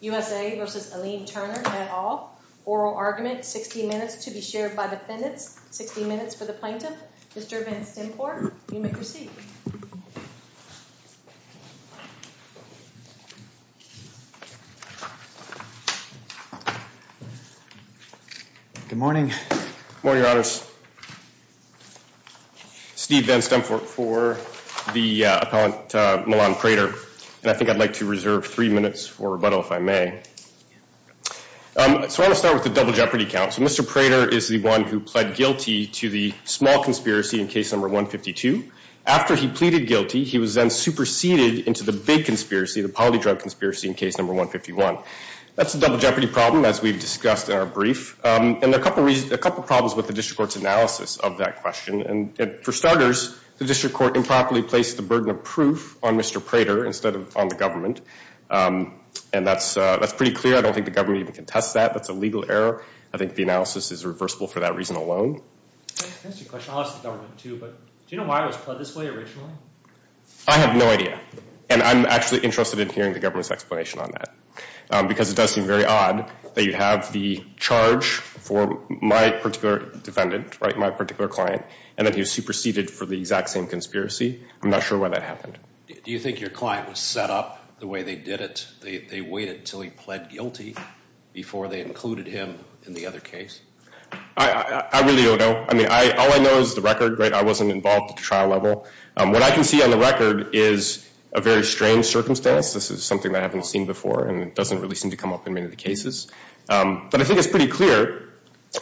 U.S.A. v. Alim Turner, et al. Oral argument, 60 minutes to be shared by defendants, 60 minutes for the plaintiffs. Mr. Van Sinclair, you may proceed. Good morning. Good morning, Your Honor. Steve Van Stempert for the appellant, Milan Prater. I think I'd like to reserve three minutes for rebuttal, if I may. I want to start with the double jeopardy counts. Mr. Prater is the one who pled guilty to the small conspiracy in case number 152. After he pleaded guilty, he was then superseded into the big conspiracy, the poly drug conspiracy in case number 151. That's a double jeopardy problem, as we've discussed in our brief. And there are a couple of problems with the district court's analysis of that question. And for starters, the district court improperly placed the burden of proof on Mr. Prater instead of on the government. And that's pretty clear. I don't think the government even can test that. That's a legal error. I think the analysis is reversible for that reason alone. I have no idea. And I'm actually interested in hearing the government's explanation on that. Because it does seem very odd that you have the charge for my particular defendant, my particular client, and that he was superseded for the exact same conspiracy. I'm not sure why that happened. Do you think your client was set up the way they did it? They waited until he pled guilty before they included him in the other case? I really don't know. All I know is the record. I wasn't involved at the trial level. What I can see on the record is a very strange circumstance. This is something I haven't seen before, and it doesn't really seem to come up in many of the cases. But I think it's pretty clear,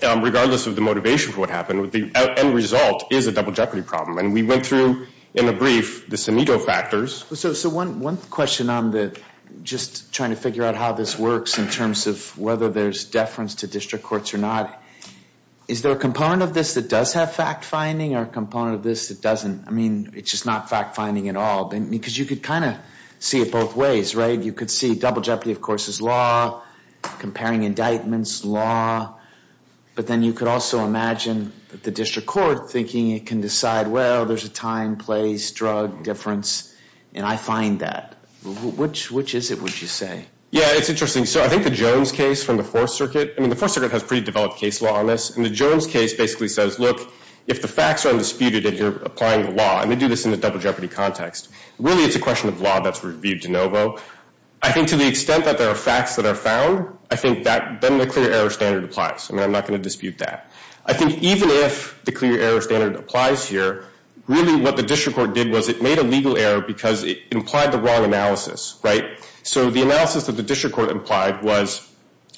regardless of the motivation for what happened, the end result is a double jeopardy problem. And we went through, in the brief, the Cimito factors. So one question on just trying to figure out how this works in terms of whether there's deference to district courts or not. Is there a component of this that does have fact-finding or a component of this that doesn't? I mean, it's just not fact-finding at all, because you could kind of see it both ways, right? You could see double jeopardy, of course, is law, comparing indictments, law. But then you could also imagine the district court thinking it can decide, well, there's a time, place, drug difference, and I find that. Which is it, would you say? Yeah, it's interesting. So I think the Jones case from the Fourth Circuit, I mean, the Fourth Circuit has pretty developed case law on this. And the Jones case basically says, look, if the facts are disputed and you're applying law, and they do this in a double jeopardy context, really it's a question of law that's reviewed de novo. I think to the extent that there are facts that are found, I think then the clear error standard applies. I mean, I'm not going to dispute that. I think even if the clear error standard applies here, really what the district court did was it made a legal error because it implied the wrong analysis. So the analysis that the district court implied was,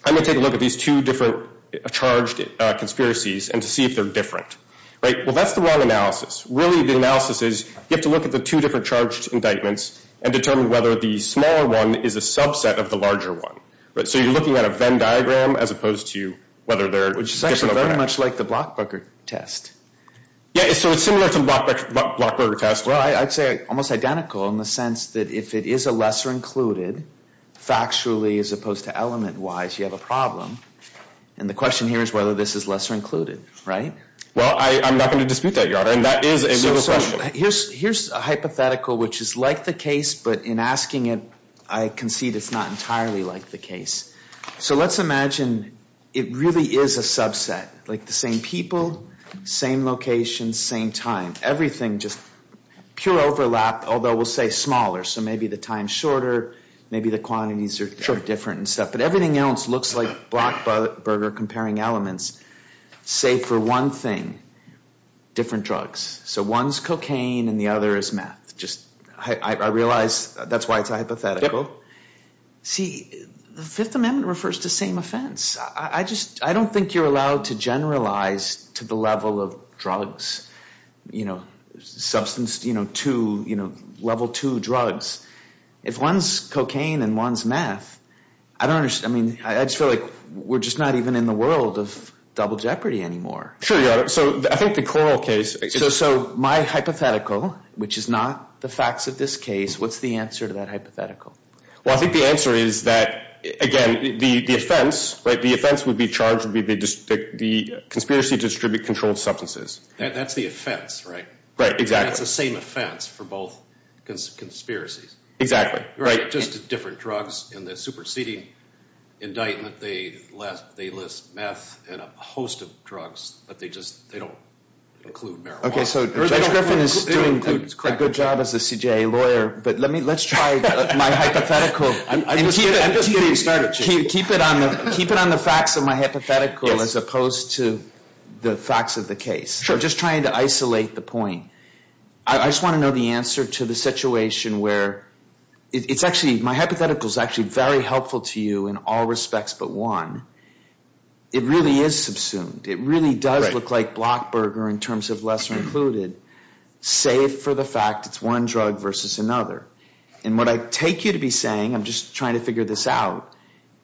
I'm going to take a look at these two different charged conspiracies and see if they're different. Well, that's the wrong analysis. Really the analysis is, you have to look at the two different charged indictments and determine whether the smaller one is a subset of the larger one. So you're looking at a Venn diagram as opposed to whether they're… It's actually very much like the Blockberger test. Yeah, so it's similar to the Blockberger test. Well, I'd say almost identical in the sense that if it is a lesser included, factually as opposed to element-wise, you have a problem. And the question here is whether this is lesser included, right? Well, I'm not going to dispute that, Your Honor. And that is a… Here's a hypothetical which is like the case, but in asking it, I concede it's not entirely like the case. So let's imagine it really is a subset, like the same people, same location, same time, everything just pure overlap, although we'll say smaller. So maybe the time's shorter, maybe the quantities are different and stuff. But everything else looks like Blockberger comparing elements, say for one thing, different drugs. So one's cocaine and the other is meth. I realize that's why it's hypothetical. See, the Fifth Amendment refers to the same offense. I don't think you're allowed to generalize to the level of drugs, level two drugs. If one's cocaine and one's meth, I just feel like we're not even in the world of double jeopardy anymore. So my hypothetical, which is not the facts of this case, what's the answer to that hypothetical? Well, I think the answer is that, again, the offense would be charged with the conspiracy to distribute controlled substances. That's the offense, right? Right, exactly. It's the same offense for both conspiracies. Exactly. Right, just different drugs. In the superseding indictment, they list meth and a host of drugs, but they don't include marijuana. Okay, so Mr. Griffin is doing a good job as a CJA lawyer, but let's try my hypothetical. Keep it on the facts of my hypothetical as opposed to the facts of the case. Sure. I'm just trying to isolate the point. I just want to know the answer to the situation where my hypothetical is actually very helpful to you in all respects but one. It really is subsumed. It really does look like blockburger in terms of lesser included, save for the fact it's one drug versus another. And what I take you to be saying, I'm just trying to figure this out,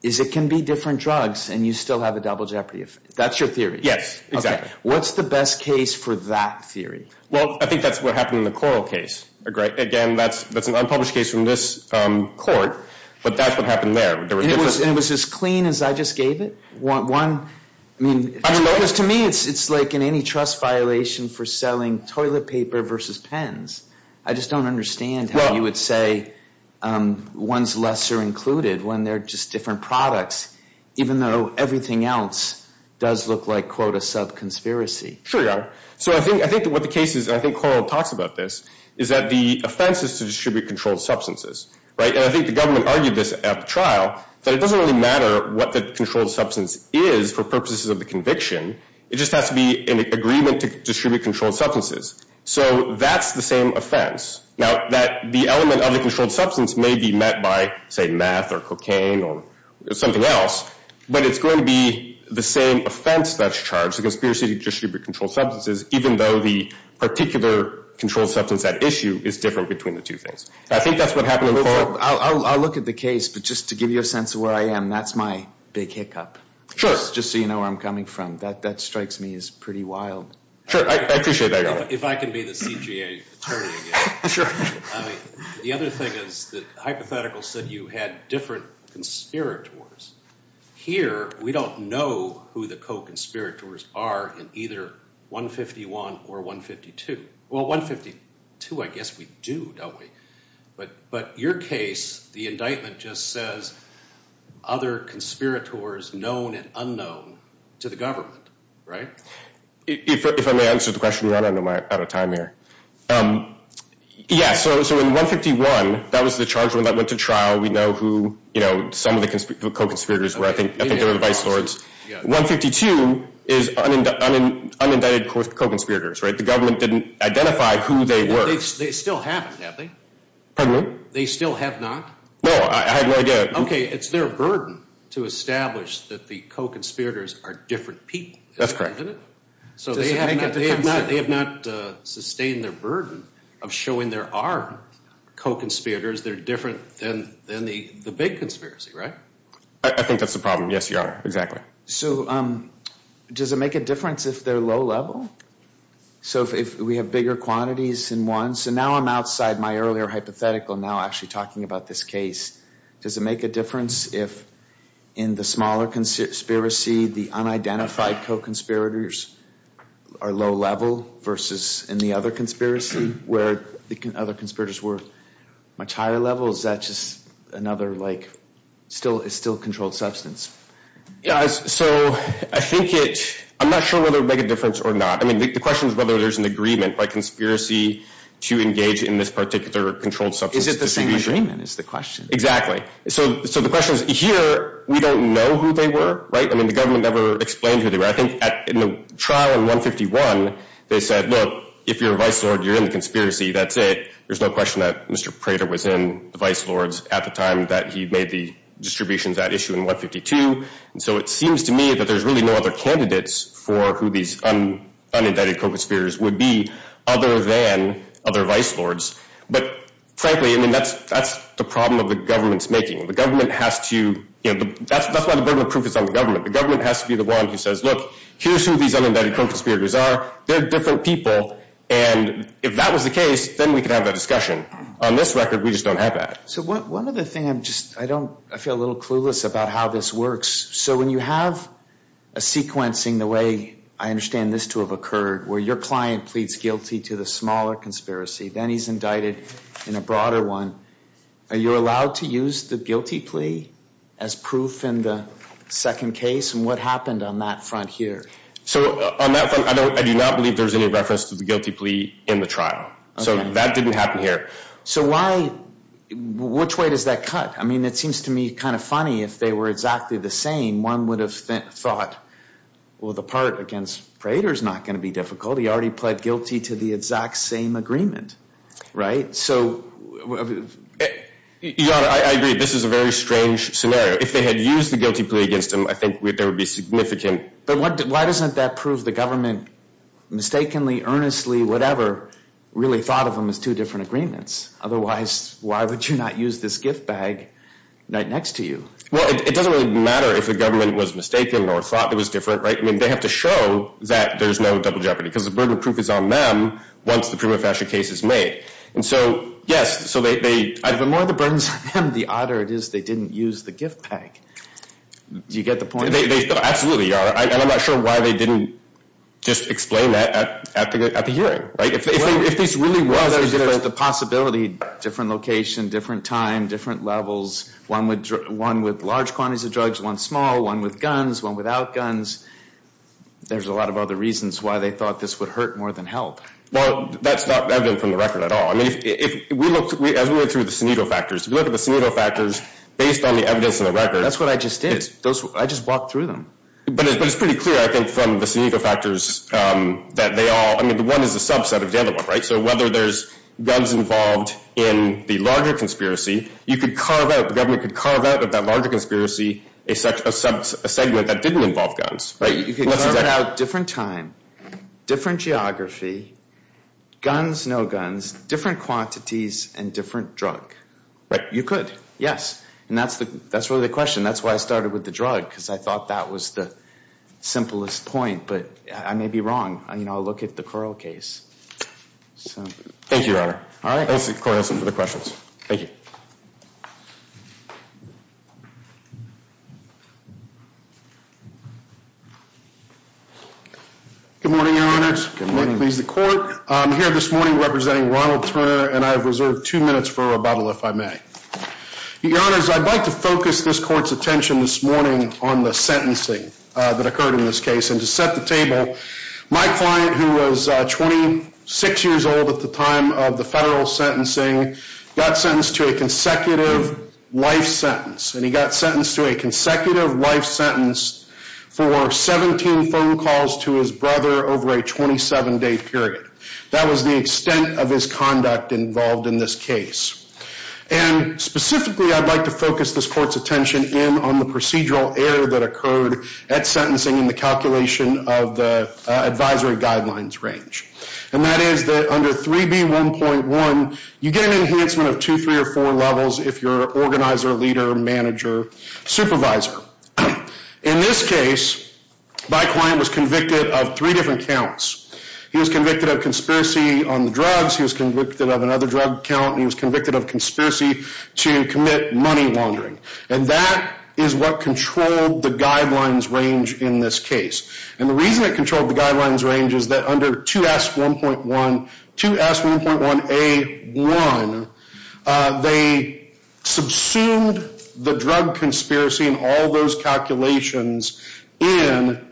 is it can be different drugs and you still have a double jeopardy offense. That's your theory. Yes, exactly. What's the best case for that theory? Well, I think that's what happened in the Coral case. Again, that's an unpublished case from this court, but that's what happened there. And it was as clean as I just gave it? To me, it's like an antitrust violation for selling toilet paper versus pens. I just don't understand how you would say one's lesser included when they're just different products, even though everything else does look like, quote, a sub-conspiracy. So I think what the case is, and I think Coral talks about this, is that the offense is to distribute controlled substances. And I think the government argued this at the trial, that it doesn't really matter what the controlled substance is for purposes of the conviction. It just has to be an agreement to distribute controlled substances. So that's the same offense. Now, the element of the controlled substance may be met by, say, meth or cocaine or something else, but it's going to be the same offense that's charged, the conspiracy to distribute controlled substances, even though the particular controlled substance at issue is different between the two things. I think that's what happened in the Court. I'll look at the case, but just to give you a sense of where I am, that's my big hiccup. Sure. Just so you know where I'm coming from. That strikes me as pretty wild. Sure, I appreciate that. If I can be the PGA attorney again. Sure. The other thing is, the hypothetical said you had different conspirators. Here, we don't know who the co-conspirators are in either 151 or 152. Well, 152 I guess we do, don't we? But your case, the indictment just says, other conspirators known and unknown to the government, right? If I may answer the question, I'm running out of time here. Yeah, so in 151, that was the charge that went to trial. We know who some of the co-conspirators were. I think they were the bite swords. 152 is unindicted co-conspirators, right? The government didn't identify who they were. They still haven't, have they? Pardon me? They still have not? No, I have no idea. Okay, it's their burden to establish that the co-conspirators are different people. That's correct. So they have not sustained their burden of showing there are co-conspirators that are different than the big conspiracy, right? I think that's the problem. Yes, you are. Exactly. So does it make a difference if they're low level? So if we have bigger quantities than one? So now I'm outside my earlier hypothetical, now actually talking about this case. Does it make a difference if in the smaller conspiracy the unidentified co-conspirators are low level versus in the other conspiracy where the other conspirators were much higher level? Is that just another, like, still controlled substance? So I think it, I'm not sure whether it would make a difference or not. I mean, the question is whether there's an agreement by conspiracy to engage in this particular controlled substance. Exactly. So the question is, here we don't know who they were, right? I mean, the government never explained who they were. I think in the trial in 151, they said, look, if you're a vice lord, you're in the conspiracy, that's it. There's no question that Mr. Prater was in the vice lords at the time that he made the distribution of that issue in 152. So it seems to me that there's really no other candidates for who these unidentified co-conspirators would be other than other vice lords. But frankly, I mean, that's the problem that the government's making. The government has to, you know, that's why the burden of proof is on the government. The government has to be the one who says, look, here's who these unidentified co-conspirators are. They're different people. And if that was the case, then we could have that discussion. On this record, we just don't have that. So one other thing, I'm just, I don't, I feel a little clueless about how this works. So when you have a sequencing the way I understand this to have occurred, where your client pleads guilty to the smaller conspiracy, then he's indicted in a broader one. Are you allowed to use the guilty plea as proof in the second case? And what happened on that front here? So on that front, I do not believe there's any reference to the guilty plea in the trial. So that didn't happen here. So why, which way does that cut? I mean, it seems to me kind of funny if they were exactly the same. One would have thought, well, the part against Prater is not going to be difficult. He already pled guilty to the exact same agreement. Right. So. Yeah, I agree. This is a very strange scenario. If they had used the guilty plea against him, I think there would be significant. But why doesn't that prove the government mistakenly, earnestly, whatever, really thought of them as two different agreements? Otherwise, why would you not use this gift bag next to you? Well, it doesn't really matter if the government was mistaken or thought it was different. I mean, they have to show that there's no double jeopardy because the burden of proof is on them. Once the prima facie case is made. And so, yes. So the more the burden is on them, the odder it is they didn't use the gift bag. You get the point? They absolutely are. And I'm not sure why they didn't just explain that at the hearing. If this really was a possibility. Different location, different time, different levels. One with large quantities of drugs, one small, one with guns, one without guns. There's a lot of other reasons why they thought this would hurt more than help. Well, that's not evident from the record at all. I mean, if we look, as we look through the Sinico factors, look at the Sinico factors based on the evidence in the record. That's what I just did. I just walked through them. But it's pretty clear, I think, from the Sinico factors that they all. I mean, the one is a subset of the other one, right? So whether there's guns involved in the larger conspiracy, you could carve out, the government could carve out of that larger conspiracy a segment that didn't involve guns. You could carve out different time, different geography, guns, no guns, different quantities, and different drug. You could. Yes. And that's really the question. That's why I started with the drug. Because I thought that was the simplest point. But I may be wrong. I mean, I'll look at the Curl case. Thank you, Your Honor. All right. Thank you for the questions. Thank you. Good morning, Your Honor. Good morning. I'm here this morning representing Ronald Turner, and I reserve two minutes for rebuttal, if I may. Your Honor, I'd like to focus this court's attention this morning on the sentencing that occurred in this case. And to set the table, my client, who was 26 years old at the time of the federal sentencing, got sentenced to a consecutive life sentence. And he got sentenced to a consecutive life sentence for 17 phone calls to his brother over a 27-day period. That was the extent of his conduct involved in this case. And specifically, I'd like to focus this court's attention in on the procedural error that occurred at sentencing in the calculation of the advisory guidelines range. And that is that under 3B1.1, you get an enhancement of two, three, or four levels if you're an organizer, leader, manager, supervisor. In this case, my client was convicted of three different counts. He was convicted of conspiracy on the drugs. He was convicted of another drug count. And he was convicted of conspiracy to commit money laundering. And that is what controlled the guidelines range in this case. And the reason it controlled the guidelines range is that under 2S1.1A1, they subsumed the drug conspiracy and all those calculations on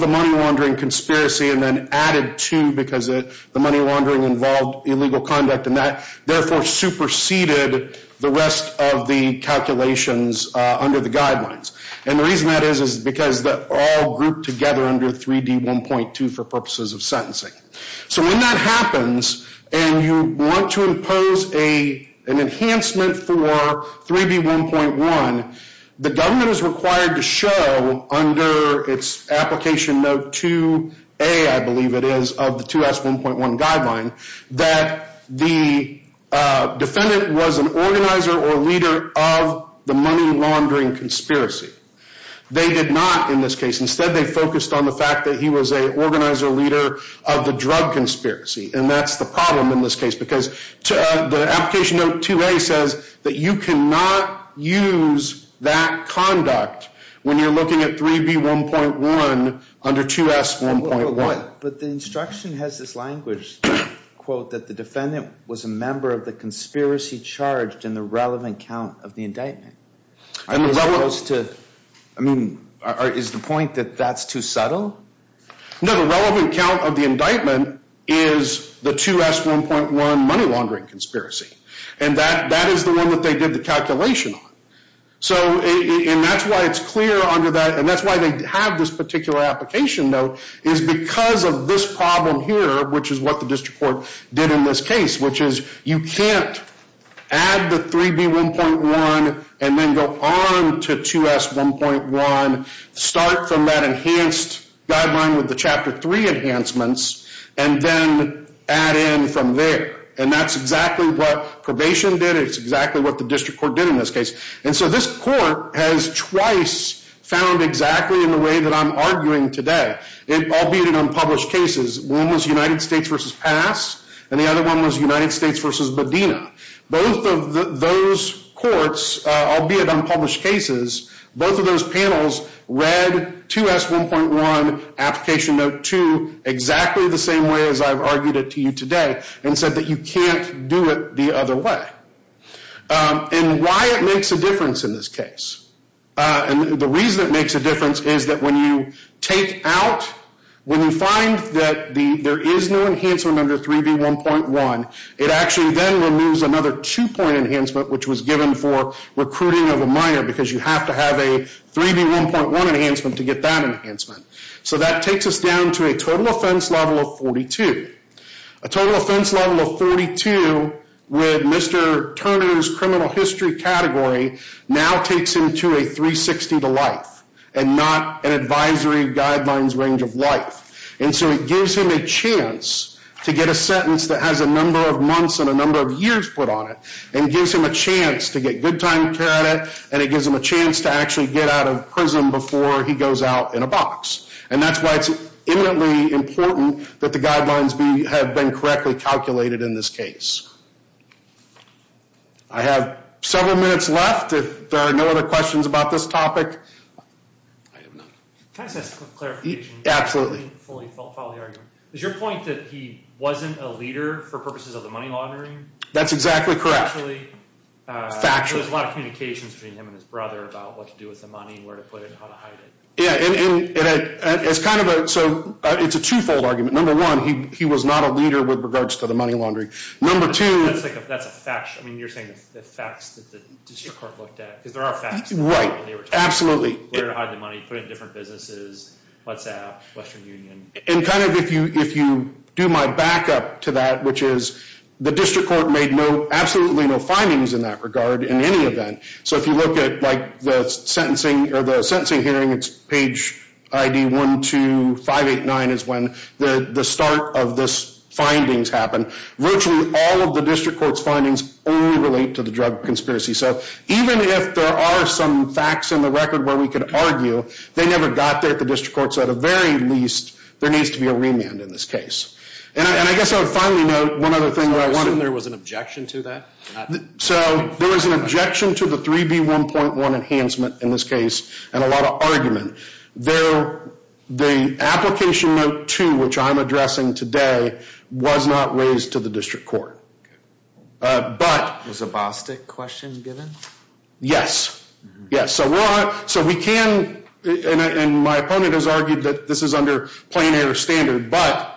the money laundering conspiracy and then added two because the money laundering involved illegal conduct. And that, therefore, superseded the rest of the calculations under the guidelines. And the reason that is is because they're all grouped together under 3D1.2 for purposes of sentencing. So when that happens and you want to impose an enhancement for 3B1.1, the government is required to show under its application note 2A, I believe it is, of the 2S1.1 guideline, that the defendant was an organizer or leader of the money laundering conspiracy. They did not in this case. Instead, they focused on the fact that he was an organizer or leader of the drug conspiracy. And that's the problem in this case because the application note 2A says that you cannot use that conduct when you're looking at 3B1.1 under 2S1.1. But the instruction has this language, quote, that the defendant was a member of the conspiracy charged in the relevant count of the indictment. I mean, is the point that that's too subtle? No, the relevant count of the indictment is the 2S1.1 money laundering conspiracy. And that is the one that they did the calculation on. And that's why it's clear under that, and that's why they have this particular application note, is because of this problem here, which is what the district court did in this case, which is you can't add the 3B1.1 and then go on to 2S1.1, start from that enhanced guideline with the Chapter 3 enhancements, and then add in from there. And that's exactly what probation did. It's exactly what the district court did in this case. And so this court has twice found exactly in the way that I'm arguing today, albeit in unpublished cases. One was United States v. Pass, and the other one was United States v. Bodina. Both of those courts, albeit unpublished cases, both of those panels read 2S1.1 application note 2 exactly the same way as I've argued it to you today and said that you can't do it the other way. And why it makes a difference in this case. And the reason it makes a difference is that when you take out, when you find that there is no enhancement under 3B1.1, it actually then removes another two-point enhancement, which was given for recruiting of a minor, because you have to have a 3B1.1 enhancement to get that enhancement. So that takes us down to a total offense level of 42. A total offense level of 42 with Mr. Turner's criminal history category now takes him to a 360 to life and not an advisory guidelines range of life. And so it gives him a chance to get a sentence that has a number of months and a number of years put on it, and gives him a chance to get good time to care of it, and it gives him a chance to actually get out of prison before he goes out in a box. And that's why it's eminently important that the guidelines have been correctly calculated in this case. I have several minutes left if there are no other questions about this topic. Can I just ask a clarification? Absolutely. Is your point that he wasn't a leader for purposes of the money laundering? That's exactly correct. Actually, there's a lot of communications between him and his brother about what to do with the money, where to put it, how to hide it. It's kind of a two-fold argument. Number one, he was not a leader with regards to the money laundering. Number two... That's a fact. I mean, you're saying the facts that the district court looked at, because there are facts. Absolutely. Where to hide the money, put it in different businesses, WhatsApp, Western Union. And kind of if you do my backup to that, which is the district court made absolutely no findings in that regard in any event. So if you look at the sentencing hearing, it's page ID 12589 is when the start of the findings happened. Virtually all of the district court's findings only relate to the drug conspiracy. So even if there are some facts in the record where we can argue, they never got there. The district court said, at the very least, there needs to be a remand in this case. And I guess I would finally note one other thing that I wanted. There was an objection to that? So there was an objection to the 3B1.1 enhancement in this case, and a lot of argument. The application note two, which I'm addressing today, was not raised to the district court. Was a BOSFIC question given? Yes. So we can, and my opponent has argued that this is under plain air standard, but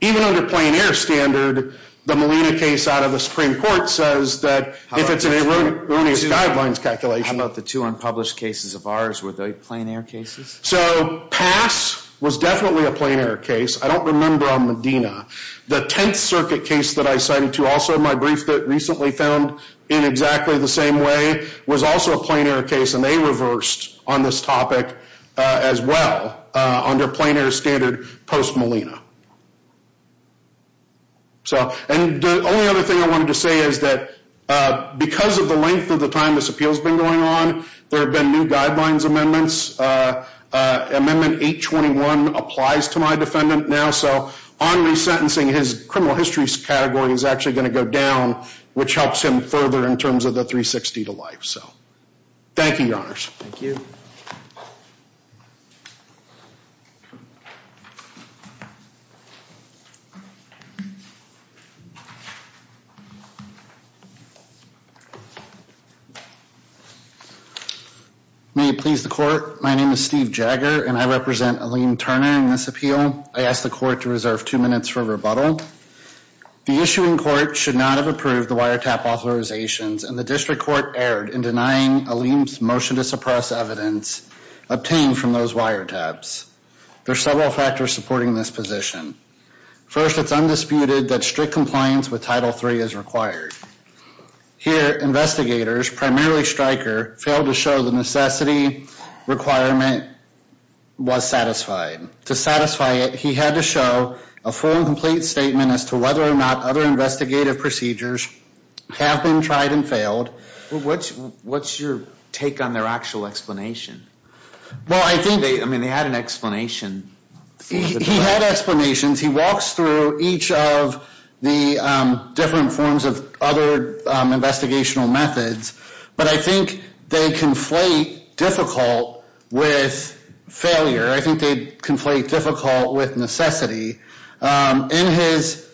even under plain air standard, the Molina case out of the Supreme Court says that if it's an erroneous guidelines calculation. How about the two unpublished cases of ours? Were they plain air cases? So PASS was definitely a plain air case. I don't remember on Medina. The 10th Circuit case that I sent you, also in my brief that recently found in exactly the same way, was also a plain air case, and they reversed on this topic as well under plain air standard post Molina. And the only other thing I wanted to say is that because of the length of the time this appeal has been going on, there have been new guidelines amendments. Amendment 821 applies to my defendant now. So on the sentencing, his criminal history category is actually going to go down, which helps him further in terms of the 360 to life. Thank you, Your Honors. Thank you. May it please the court, my name is Steve Jagger, and I represent Aline Turner in this appeal. I ask the court to reserve two minutes for rebuttal. The issuing court should not have approved the wiretap authorizations, and the district court erred in denying Aline's motion to suppress evidence obtained from those wiretaps. There are several factors supporting this position. First, it's undisputed that strict compliance with Title III is required. Here, investigators, primarily Stryker, failed to show the necessity requirement was satisfied. To satisfy it, he had to show a full and complete statement as to whether or not other investigative procedures have been tried and failed. What's your take on their actual explanation? Well, I think they had an explanation. He had explanations. He walks through each of the different forms of other investigational methods, but I think they conflate difficult with failure. I think they conflate difficult with necessity. In his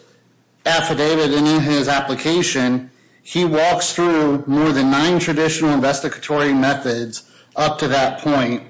affidavit and in his application, he walks through more than nine traditional investigatory methods up to that point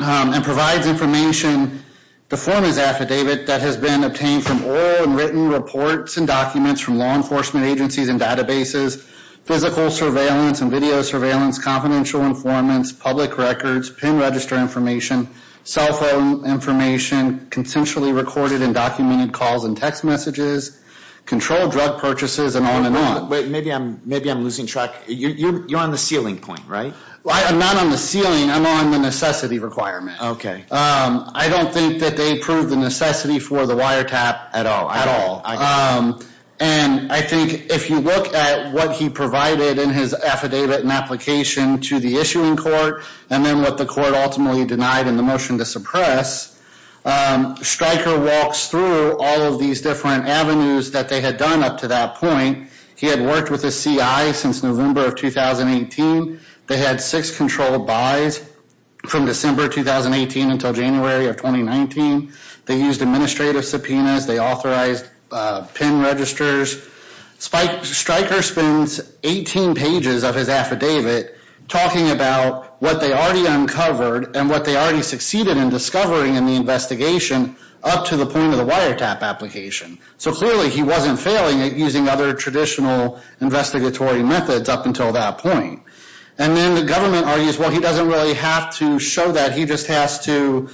and provides information before his affidavit that has been obtained from oral and written reports and documents from law enforcement agencies and databases, physical surveillance and video surveillance, confidential informants, public records, pin register information, cell phone information, consensually recorded and documented calls and text messages, controlled drug purchases, and on and on. Wait, maybe I'm losing track. You're on the ceiling point, right? I'm not on the ceiling. I'm on the necessity requirement. I don't think that they proved the necessity for the wiretap at all. And I think if you look at what he provided in his affidavit and application to the issuing court and then what the court ultimately denied in the motion to suppress, Stryker walks through all of these different avenues that they had done up to that point. He had worked with the CI since November of 2018. They had six controlled buys from December 2018 until January of 2019. They used administrative subpoenas. They authorized pin registers. Stryker spends 18 pages of his affidavit talking about what they already uncovered and what they already succeeded in discovering in the investigation up to the point of the wiretap application. So clearly he wasn't failing at using other traditional investigatory methods up until that point. And then the government argues, well, he doesn't really have to show that. He just has to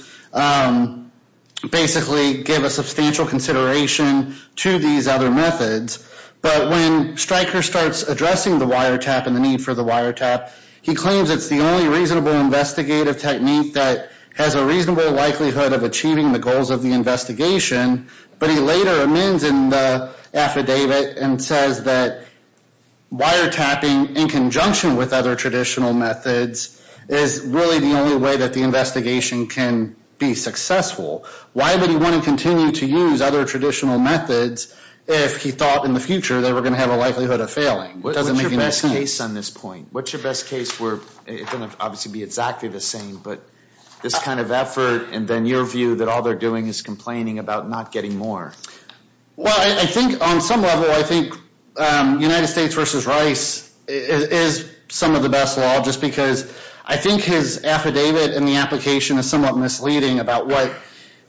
basically give a substantial consideration to these other methods. But when Stryker starts addressing the wiretap and the need for the wiretap, he claims it's the only reasonable investigative technique that has a reasonable likelihood of achieving the goals of the investigation. But he later amends in the affidavit and says that wiretapping in conjunction with other traditional methods is really the only way that the investigation can be successful. Why would he want to continue to use other traditional methods if he thought in the future that we're going to have a likelihood of failing? What's your best case on this point? What's your best case where it's going to obviously be exactly the same, but this kind of effort and then your view that all they're doing is complaining about not getting more? Well, I think on some level I think United States v. Rice is some of the best law just because I think his affidavit in the application is somewhat misleading about what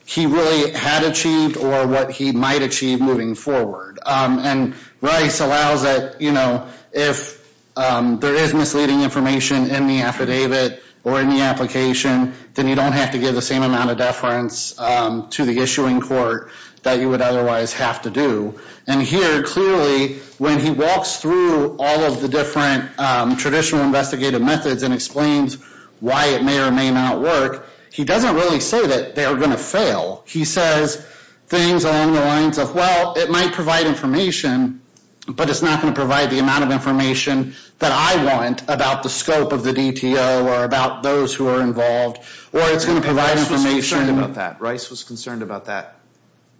he really had achieved or what he might achieve moving forward. And Rice allows that if there is misleading information in the affidavit or in the application, then you don't have to give the same amount of deference to the issuing court that you would otherwise have to do. And here clearly when he walks through all of the different traditional investigative methods and explains why it may or may not work, he doesn't really say that they're going to fail. He says things along the lines of, well, it might provide information, but it's not going to provide the amount of information that I want about the scope of the DTO or about those who are involved, or it's going to provide information. Rice was concerned about that.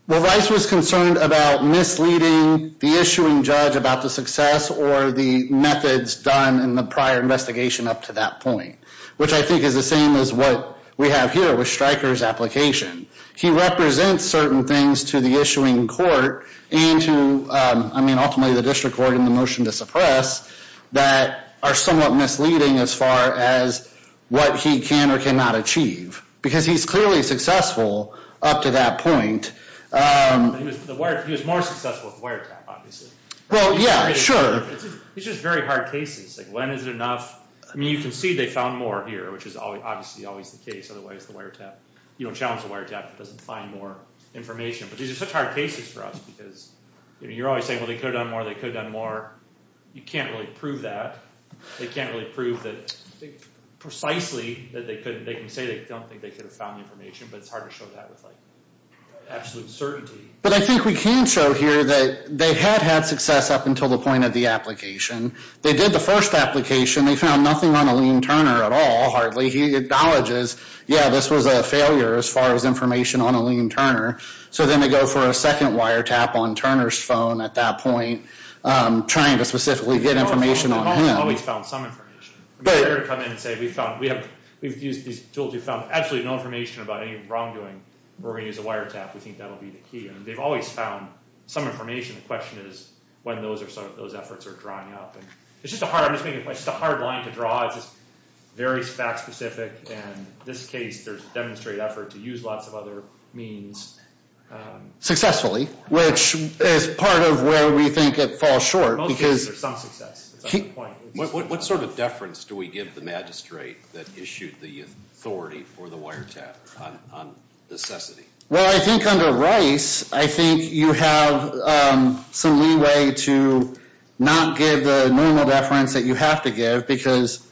Well, Rice was concerned about misleading the issuing judge about the success or the methods done in the prior investigation up to that point, which I think is the same as what we have here with Stryker's application. He represents certain things to the issuing court and to, I mean, ultimately the district court and the motion to suppress that are somewhat misleading as far as what he can or cannot achieve because he's clearly successful up to that point. He was more successful with the wiretap, obviously. Well, yeah, sure. It's just very hard cases. He's like, when is it enough? I mean, you can see they found more here, which is obviously always the case, otherwise the wiretap, you don't shout at the wiretap if it doesn't find more information. But these are such hard cases for us because you're always saying, well, they could have done more, they could have done more. You can't really prove that. They can't really prove precisely that they could. They can say they don't think they could have found information, but it's hard to show that with absolute certainty. But I think we can show here that they have had success up until the point of the application. They did the first application. They found nothing on Eileen Turner at all, hardly. He acknowledges, yeah, this was a failure as far as information on Eileen Turner. So then they go for a second wiretap on Turner's phone at that point, trying to specifically get information on him. They've always found some information. We've used these tools. We've found absolutely no information about any wrongdoing. We're going to use a wiretap. We think that will be the key. And they've always found some information. The question is when those efforts are drawing up. It's just a hard line to draw. It's very fact-specific. In this case, there's a demonstrated effort to use lots of other means. Successfully, which is part of where we think it falls short. Okay, there's some success. What sort of deference do we give the magistrate that issued the authority for the wiretap on necessity? Well, I think under Rice, I think you have some leeway to not give the normal deference that you have to give, because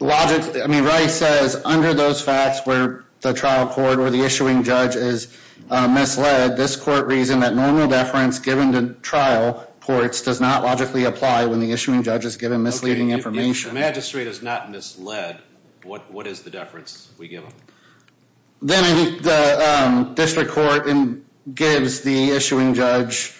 Rice says under those facts where the trial court or the issuing judge is misled, this court reason that normal deference given to trial courts does not logically apply when the issuing judge is given misleading information. If the magistrate is not misled, what is the deference we give him? Then the district court gives the issuing judge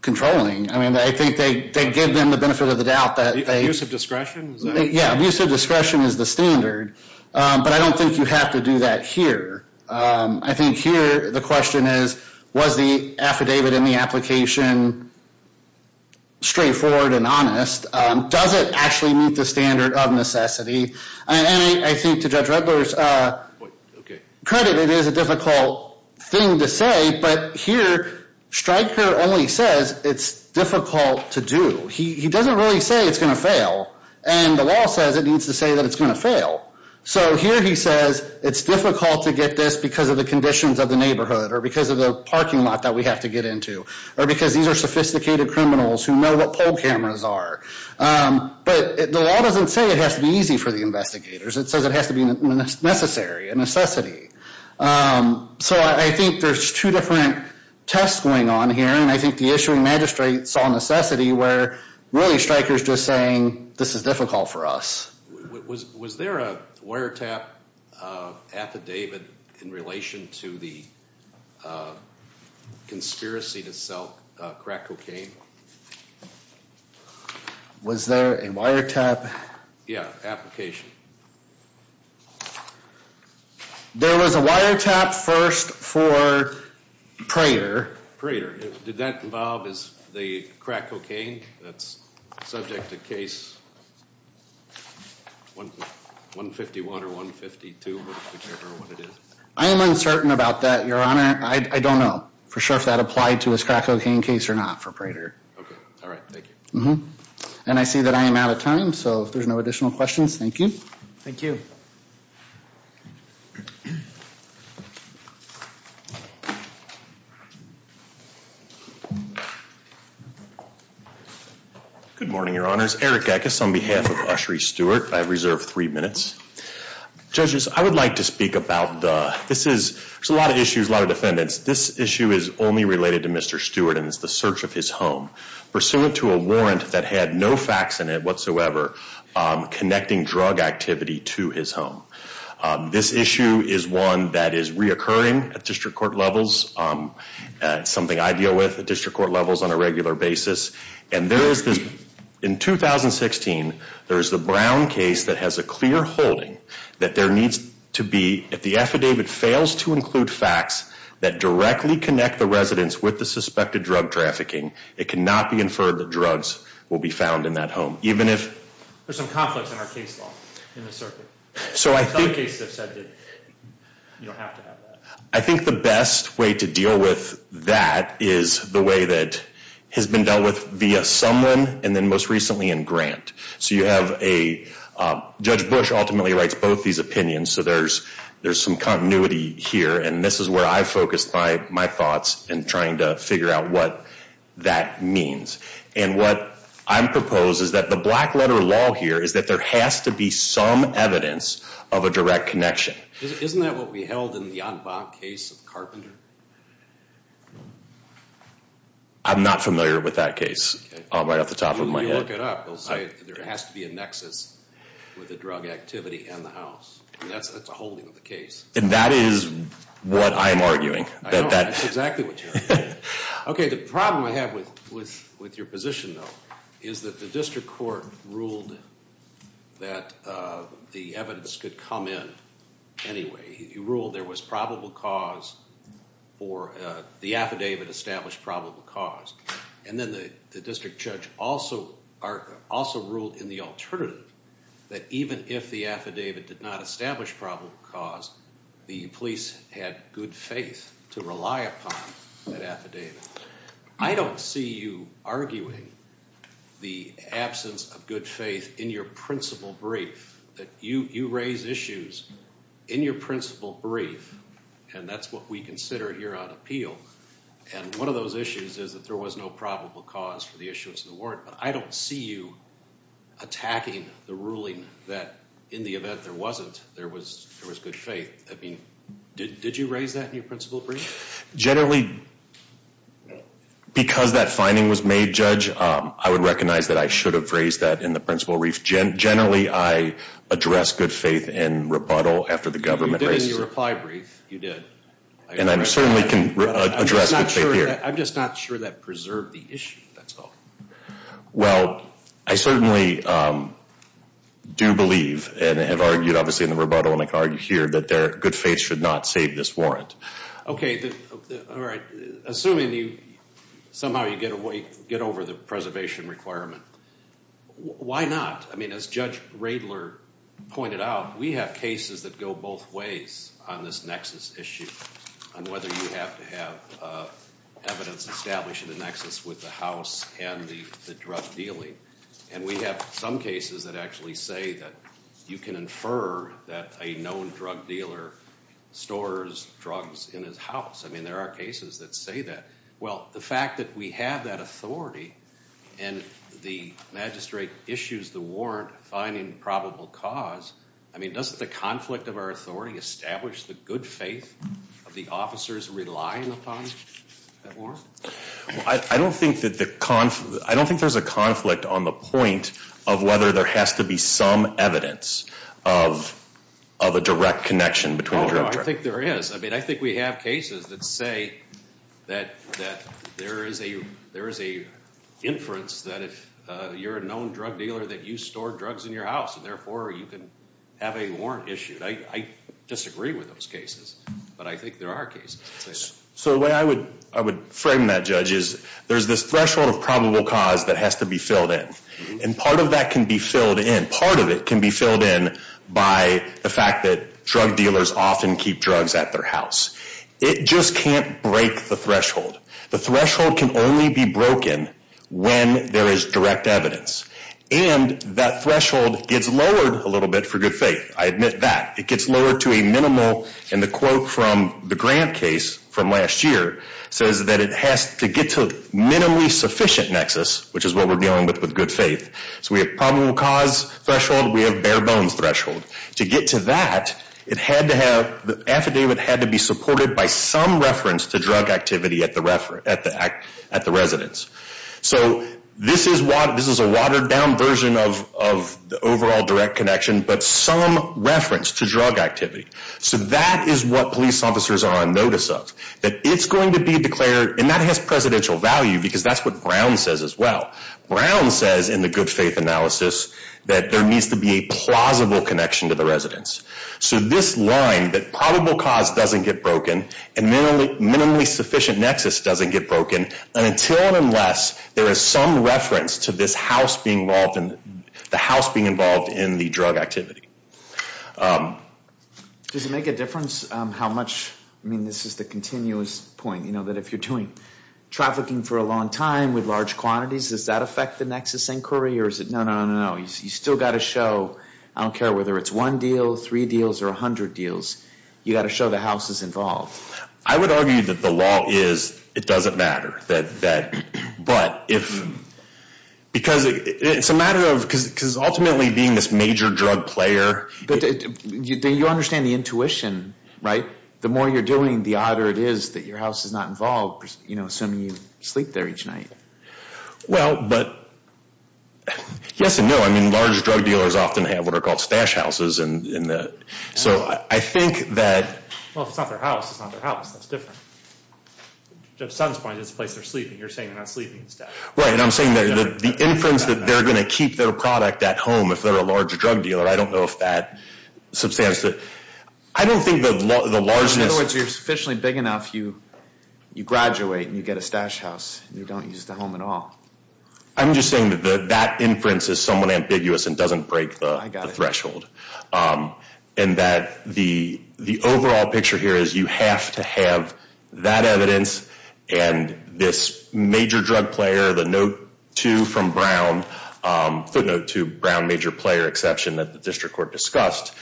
controlling. I think they give them the benefit of the doubt. Abuse of discretion? Yeah, abuse of discretion is the standard. But I don't think you have to do that here. I think here the question is was the affidavit in the application straightforward and honest? Does it actually meet the standard of necessity? I think to Judge Rutler's credit, it is a difficult thing to say, but here Stryker only says it's difficult to do. He doesn't really say it's going to fail, and the law says it needs to say that it's going to fail. So here he says it's difficult to get this because of the conditions of the neighborhood or because of the parking lot that we have to get into or because these are sophisticated criminals who know what poll cameras are. But the law doesn't say it has to be easy for the investigators. It says it has to be necessary, a necessity. So I think there's two different tests going on here, and I think the issuing magistrate saw necessity where really Stryker is just saying this is difficult for us. Was there a wiretap affidavit in relation to the conspiracy to sell crack cocaine? Was there a wiretap... Yeah, application. There was a wiretap first for Prater. Prater, did that involve the crack cocaine that's subject to case 151 or 152, whichever one it is? I am uncertain about that, Your Honor. I don't know for sure if that applied to his crack cocaine case or not for Prater. Okay. All right. Thank you. And I see that I am out of time, so if there's no additional questions, thank you. Thank you. Good morning, Your Honors. Eric Eck is on behalf of Ushery Stewart. I have reserved three minutes. Judges, I would like to speak about the... This is... There's a lot of issues, a lot of defendants. This issue is only related to Mr. Stewart, and it's the search of his home, pursuant to a warrant that had no facts in it whatsoever connecting drug activity to his home. This issue is one that is reoccurring at district court levels. It's something I deal with at district court levels on a regular basis. And there is this... In 2016, there's the Brown case that has a clear holding that there needs to be, if the affidavit fails to include facts that directly connect the residents with the suspected drug trafficking, it cannot be inferred that drugs will be found in that home, even if... There's some conflict in our case law in this circuit. So I think... Some cases have said that you don't have to have that. I think the best way to deal with that is the way that has been dealt with via someone, and then most recently in Grant. So you have a... Judge Bush ultimately writes both these opinions, so there's some continuity here, and this is where I focus my thoughts in trying to figure out what that means. And what I propose is that the black letter law here is that there has to be some evidence of a direct connection. Isn't that what we held in the Yonvab case of Carpenter? I'm not familiar with that case, right off the top of my head. If you look it up, it'll say there has to be a nexus with the drug activity and the house. That's a holding of the case. And that is what I am arguing. I don't know exactly what you're arguing. Okay, the problem I have with your position, though, is that the district court ruled that the evidence could come in anyway. You ruled there was probable cause or the affidavit established probable cause. And then the district judge also ruled in the alternative that even if the affidavit did not establish probable cause, the police had good faith to rely upon that affidavit. I don't see you arguing the absence of good faith in your principle brief. You raise issues in your principle brief, and that's what we consider here on appeal. And one of those issues is that there was no probable cause for the issues that weren't. I don't see you attacking the ruling that in the event there wasn't, there was good faith. I mean, did you raise that in your principle brief? Generally, because that finding was made, Judge, I would recognize that I should have raised that in the principle brief. Generally, I address good faith in rebuttal after the government raises it. You did in your reply brief. You did. And I certainly can address good faith here. I'm just not sure that preserved the issue. That's all. Well, I certainly do believe and have argued, obviously, in the rebuttal and I can argue here, that good faith should not save this warrant. Okay. All right. Assuming somehow you get over the preservation requirement, why not? I mean, as Judge Raebler pointed out, we have cases that go both ways on this nexus issue on whether you have to have evidence established in the nexus with the house and the drug dealing. And we have some cases that actually say that you can infer that a known drug dealer stores drugs in his house. I mean, there are cases that say that. Well, the fact that we have that authority and the magistrate issues the warrant finding probable cause, I mean, doesn't the conflict of our authority establish the good faith of the officers who rely on the funds? That warrant? I don't think there's a conflict on the point of whether there has to be some evidence of a direct connection between the drug dealer. I think there is. I mean, I think we have cases that say that there is a inference that if you're a known drug dealer, that you store drugs in your house and therefore you can have a warrant issued. I disagree with those cases, but I think there are cases. So the way I would frame that, Judge, is there's this threshold of probable cause that has to be filled in. And part of that can be filled in. Part of it can be filled in by the fact that drug dealers often keep drugs at their house. It just can't break the threshold. The threshold can only be broken when there is direct evidence. And that threshold gets lowered a little bit for good faith. I admit that. And the quote from the grant case from last year says that it has to get to a minimally sufficient nexus, which is what we're dealing with with good faith. So we have probable cause threshold. We have bare bones threshold. To get to that, the affidavit had to be supported by some reference to drug activity at the residence. So this is a watered down version of the overall direct connection, but some reference to drug activity. So that is what police officers are on notice of, that it's going to be declared, and that has presidential value because that's what Brown says as well. Brown says in the good faith analysis that there needs to be a plausible connection to the residence. So this line that probable cause doesn't get broken and minimally sufficient nexus doesn't get broken, until and unless there is some reference to this house being involved in the drug activity. Does it make a difference how much, I mean, this is the continuous point, that if you're doing trafficking for a long time with large quantities, does that affect the nexus inquiry, or is it no, no, no, no, you still got to show, I don't care whether it's one deal, three deals, or 100 deals, you got to show the house is involved. I would argue that the law is it doesn't matter. But if, because it's a matter of, because ultimately being this major drug player. You understand the intuition, right? The more you're doing, the odder it is that your house is not involved, you know, assuming you sleep there each night. Well, but, yes and no. I mean, large drug dealers often have what are called stash houses, and so I think that. Well, it's not their house, it's not their house, that's different. The son finds this place they're sleeping, you're saying they're not sleeping. Right, and I'm saying that the inference that they're going to keep their product at home, if they're a large drug dealer, I don't know if that, I don't think the largeness. In other words, you're sufficiently big enough, you graduate and you get a stash house, and you don't use the home at all. I'm just saying that that inference is somewhat ambiguous and doesn't break the threshold. And that the overall picture here is you have to have that evidence and this major drug player, the note two from Brown, the note two Brown major player exception that the district court discussed,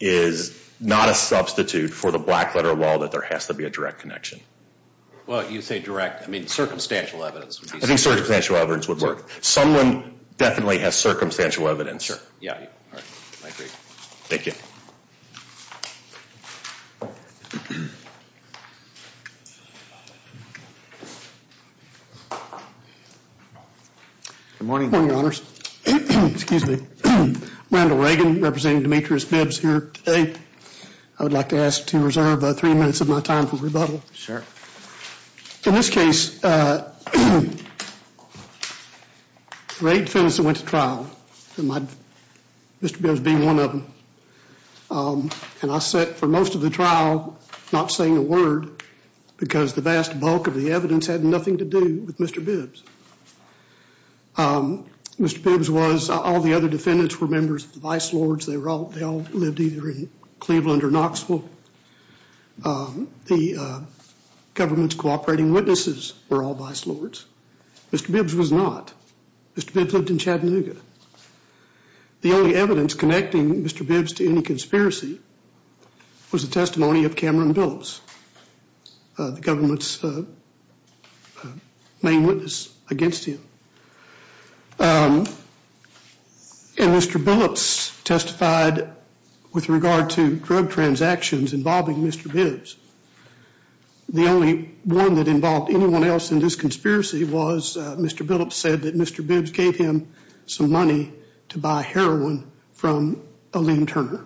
is not a substitute for the black letter law that there has to be a direct connection. Well, you say direct, I mean circumstantial evidence. I think circumstantial evidence would work. Someone definitely has circumstantial evidence here. Yeah. I agree. Thank you. Good morning. Good morning, Your Honors. Excuse me. Randall Reagan, representing Demetrius Bibbs here today. I would like to ask to reserve about three minutes of my time for rebuttal. Sure. In this case, Reagan sentenced me to trial, Mr. Bibbs being one of them. And I sat for most of the trial not saying a word because the vast bulk of the evidence had nothing to do with Mr. Bibbs. Mr. Bibbs was, all the other defendants were members of the vice lords. They all lived either in Cleveland or Knoxville. The government's cooperating witnesses were all vice lords. Mr. Bibbs was not. Mr. Bibbs lived in Chattanooga. The only evidence connecting Mr. Bibbs to any conspiracy was the testimony of Cameron Billups, the government's main witness against him. And Mr. Billups testified with regard to drug transactions involving Mr. Bibbs. The only one that involved anyone else in this conspiracy was Mr. Billups said that Mr. Bibbs gave him some money to buy heroin from Elaine Turner.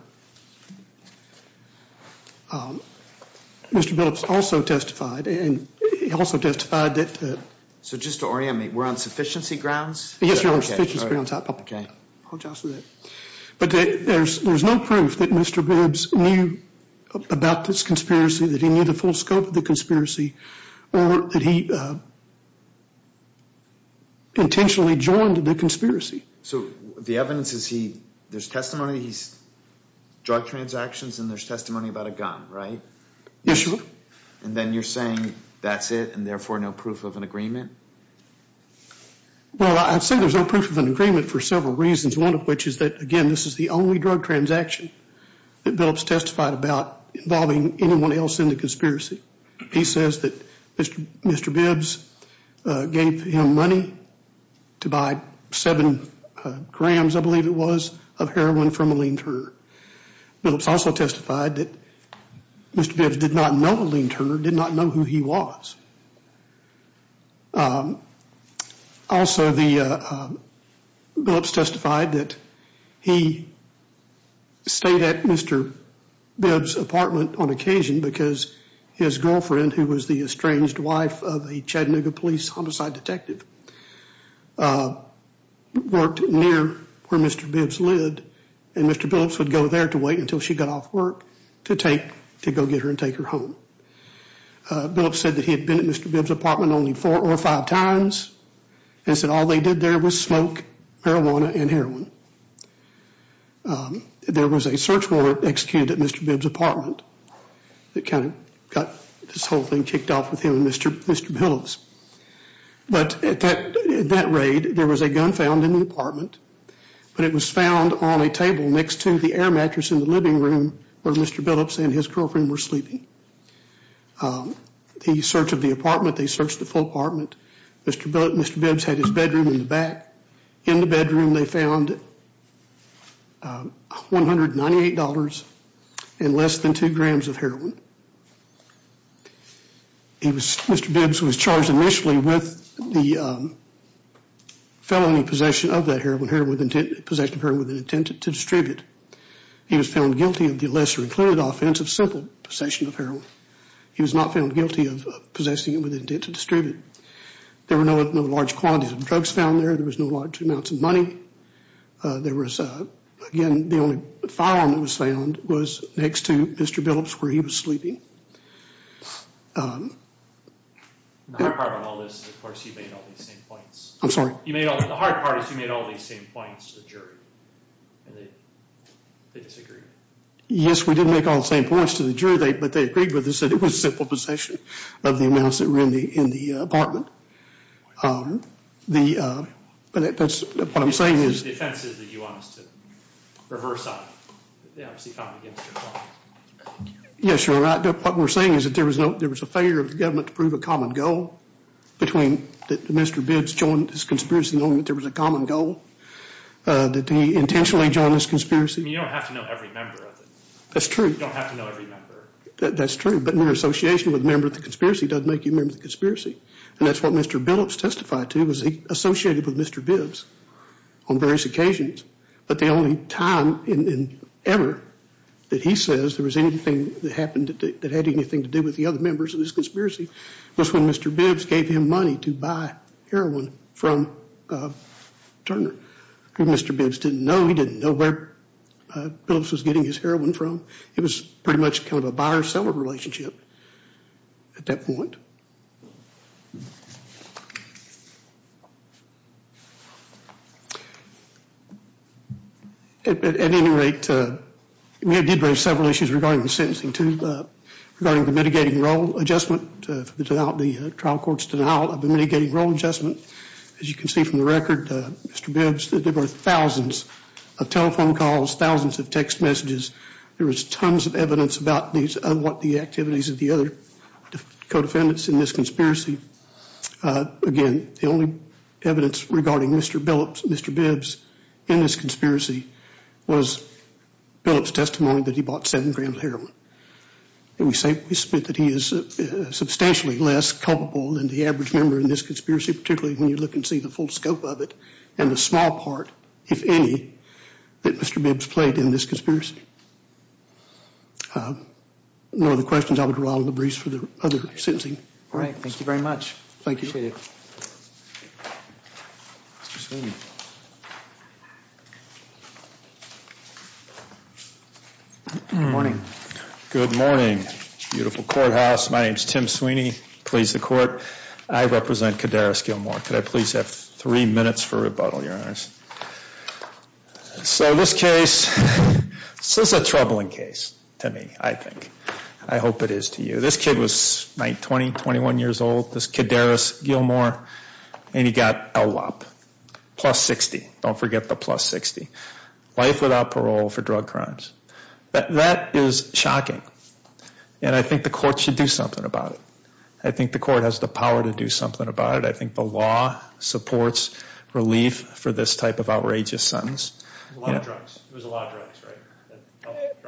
Mr. Billups also testified. So just to orient me, we're on sufficiency grounds? Yes, you're on sufficiency grounds. But there's no proof that Mr. Bibbs knew about this conspiracy, that he knew the full scope of the conspiracy, or that he intentionally joined the conspiracy. So the evidence is there's testimony, drug transactions, and there's testimony about a gun, right? Yes, sir. And then you're saying that's it and therefore no proof of an agreement? Well, I'd say there's no proof of an agreement for several reasons, one of which is that, again, this is the only drug transaction that Billups testified about involving anyone else in the conspiracy. He says that Mr. Bibbs gave him money to buy seven grams, I believe it was, of heroin from Elaine Turner. Billups also testified that Mr. Bibbs did not know Elaine Turner, did not know who he was. Also, Billups testified that he stayed at Mr. Bibbs' apartment on occasion because his girlfriend, who was the estranged wife of a Chattanooga police homicide detective, worked near where Mr. Bibbs lived, and Mr. Billups would go there to wait until she got off work to go get her and take her home. Billups said that he had been at Mr. Bibbs' apartment only four or five times. He said all they did there was smoke, marijuana, and heroin. There was a search warrant executed at Mr. Bibbs' apartment that kind of got this whole thing kicked off with him and Mr. Billups. But at that raid, there was a gun found in the apartment, but it was found on a table next to the air mattress in the living room where Mr. Billups and his girlfriend were sleeping. He searched the apartment, they searched the full apartment. Mr. Bibbs had his bedroom in the back. In the bedroom, they found $198 and less than two grams of heroin. Mr. Bibbs was charged initially with the felony possession of the heroin with the intent to distribute. He was found guilty of the lesser and clearer offense of simple possession of heroin. He was not found guilty of possessing it with the intent to distribute. There were no large quantities of drugs found there. There was no large amounts of money. Again, the only firearm that was found was next to Mr. Billups where he was sleeping. Yes, we did make all the same points to the jury, but they agreed with us that it was simple possession of the amounts that were in the apartment. What I'm saying is... Yes, you're right. What we're saying is that there was a failure of the government to prove a common goal between that Mr. Bibbs joined this conspiracy knowing that there was a common goal, that he intentionally joined this conspiracy. You don't have to know every member of it. That's true. You don't have to know every member. That's true, but your association with a member of the conspiracy doesn't make you a member of the conspiracy. That's what Mr. Billups testified to. He was associated with Mr. Bibbs on various occasions, but the only time ever that he says there was anything that happened that had anything to do with the other members of this conspiracy was when Mr. Bibbs gave him money to buy heroin from Turner. Mr. Bibbs didn't know. He didn't know where Billups was getting his heroin from. It was pretty much a buyer-seller relationship at that point. At any rate, there were several issues regarding the sentencing, including regarding the mitigating role adjustment. The trial court stood out of the mitigating role adjustment. As you can see from the record, Mr. Bibbs, there were thousands of telephone calls, thousands of text messages. There was tons of evidence about these unwanted activities of the other co-defendants in this conspiracy. Again, the only evidence regarding Mr. Bibbs in this conspiracy was Billups' testimony that he bought seven grams of heroin. We suspect that he is substantially less culpable than the average member in this conspiracy, particularly when you look and see the full scope of it and the small part, if any, that Mr. Bibbs played in this conspiracy. Those are the questions I would draw to the briefs for the other sentencing. All right. Thank you very much. Thank you. Appreciate it. Good morning. Good morning. Beautiful courthouse. My name is Tim Sweeney, police of court. I represent Kadaris Gilmore. Could I please have three minutes for rebuttal, Your Honor? So this case, this is a troubling case to me, I think. I hope it is to you. This kid was 20, 21 years old, this Kadaris Gilmore, and he got LLOP, plus 60. Don't forget the plus 60. Life without parole for drug crimes. That is shocking, and I think the court should do something about it. I think the court has the power to do something about it. I think the law supports relief for this type of outrageous sentence. It was a lot of drugs, right?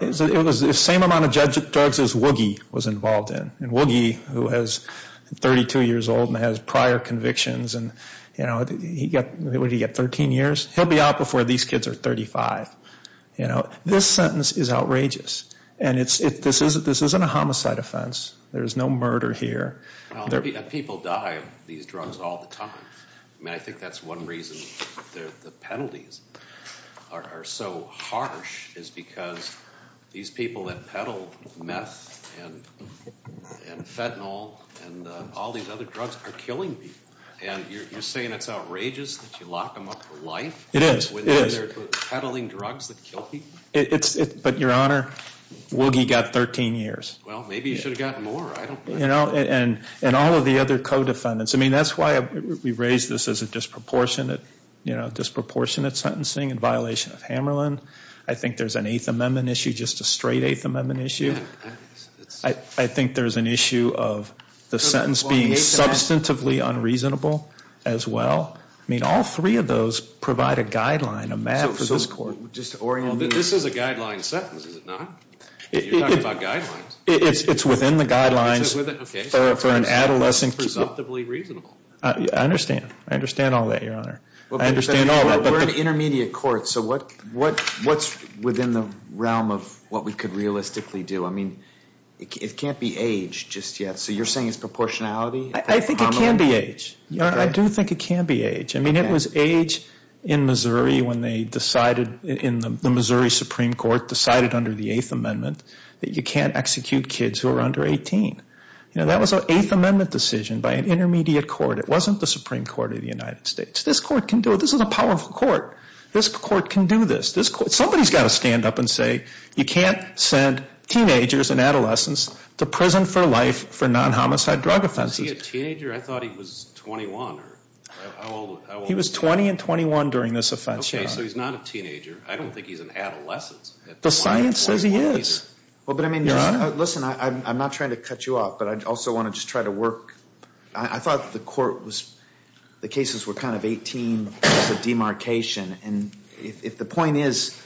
It was the same amount of drugs as Woogie was involved in, and Woogie, who is 32 years old and has prior convictions, and he got 13 years. He'll be out before these kids are 35. This sentence is outrageous, and this isn't a homicide offense. There's no murder here. People die of these drugs all the time. I think that's one reason the penalties are so harsh is because these people that peddle meth and fentanyl and all these other drugs are killing people. You're saying it's outrageous that you lock them up for life? It is. Peddling drugs that kill people? But, Your Honor, Woogie got 13 years. Well, maybe he should have gotten more. And all of the other co-defendants. I mean, that's why we've raised this as a disproportionate sentencing in violation of Hammerlin. I think there's an Eighth Amendment issue, just a straight Eighth Amendment issue. I think there's an issue of the sentence being substantively unreasonable as well. I mean, all three of those provide a guideline, a map for this court. This is a guideline sentence, is it not? You're talking about guidelines? It's within the guidelines for an adolescent. It's substantively reasonable. I understand. I understand all that, Your Honor. We're an intermediate court, so what's within the realm of what we could realistically do? I mean, it can't be age just yet, so you're saying it's proportionality? I think it can be age. I do think it can be age. I mean, it was age in Missouri when they decided, in the Missouri Supreme Court, decided under the Eighth Amendment that you can't execute kids who are under 18. That was an Eighth Amendment decision by an intermediate court. It wasn't the Supreme Court of the United States. This court can do it. This is a powerful court. This court can do this. Somebody's got to stand up and say you can't send teenagers and adolescents to prison for life for non-homicide drug offenses. Was he a teenager? I thought he was 21. He was 20 and 21 during this offense, Your Honor. So he's not a teenager. I don't think he's an adolescent. The science says he is. Well, but I mean, listen, I'm not trying to cut you off, but I also want to just try to work. I thought the court was – the cases were kind of 18 as a demarcation, and if the point is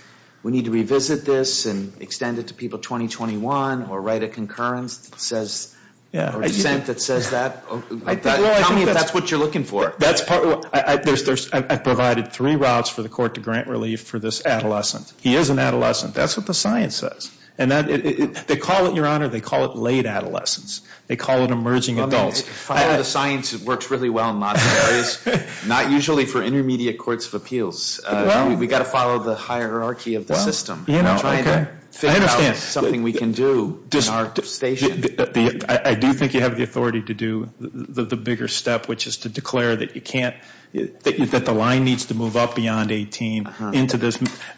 we need to revisit this and extend it to people 20-21 or write a concurrence that says – or a sentence that says that – Well, I think that's what you're looking for. I've provided three routes for the court to grant relief for this adolescent. He is an adolescent. That's what the science says. They call it, Your Honor, they call it late adolescence. They call it emerging adults. The science works really well in most areas. Not usually for intermediate courts of appeals. We've got to follow the hierarchy of the system. You know, I don't think – It's something we can do in our station. I do think you have the authority to do the bigger step, which is to declare that you can't – that the line needs to move up beyond 18.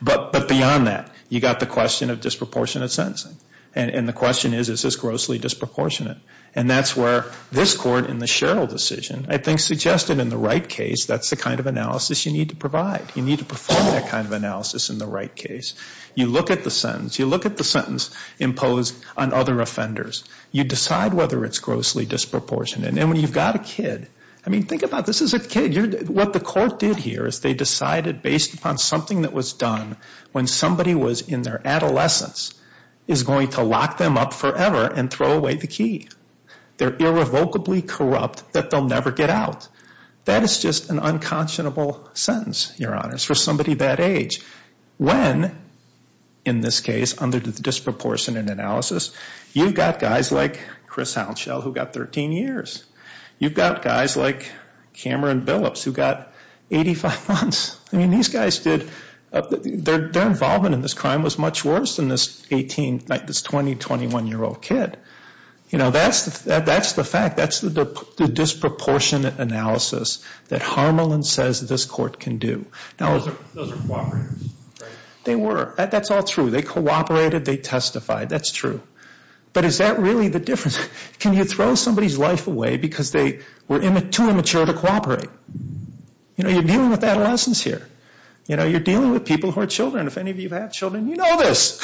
But beyond that, you've got the question of disproportionate sentencing. And the question is, is this grossly disproportionate? And that's where this court in the Sherrill decision I think suggested in the right case that's the kind of analysis you need to provide. You need to perform that kind of analysis in the right case. You look at the sentence. You look at the sentence imposed on other offenders. You decide whether it's grossly disproportionate. And then when you've got a kid – I mean, think about it. This is a kid. What the court did here is they decided based upon something that was done when somebody was in their adolescence is going to lock them up forever and throw away the key. They're irrevocably corrupt that they'll never get out. That is just an unconscionable sentence, Your Honor, for somebody that age. When, in this case, under the disproportionate analysis, you've got guys like Chris Hounshell who got 13 years. You've got guys like Cameron Billups who got 85 months. I mean, these guys did – their involvement in this crime was much worse than this 20-, 21-year-old kid. That's the fact. That's the disproportionate analysis that Harmelin says this court can do. Those were cooperatives, right? They were. That's all true. They cooperated. They testified. That's true. But is that really the difference? Can you throw somebody's life away because they were too immature to cooperate? You're dealing with adolescence here. You're dealing with people who are children. If any of you have children, you know this.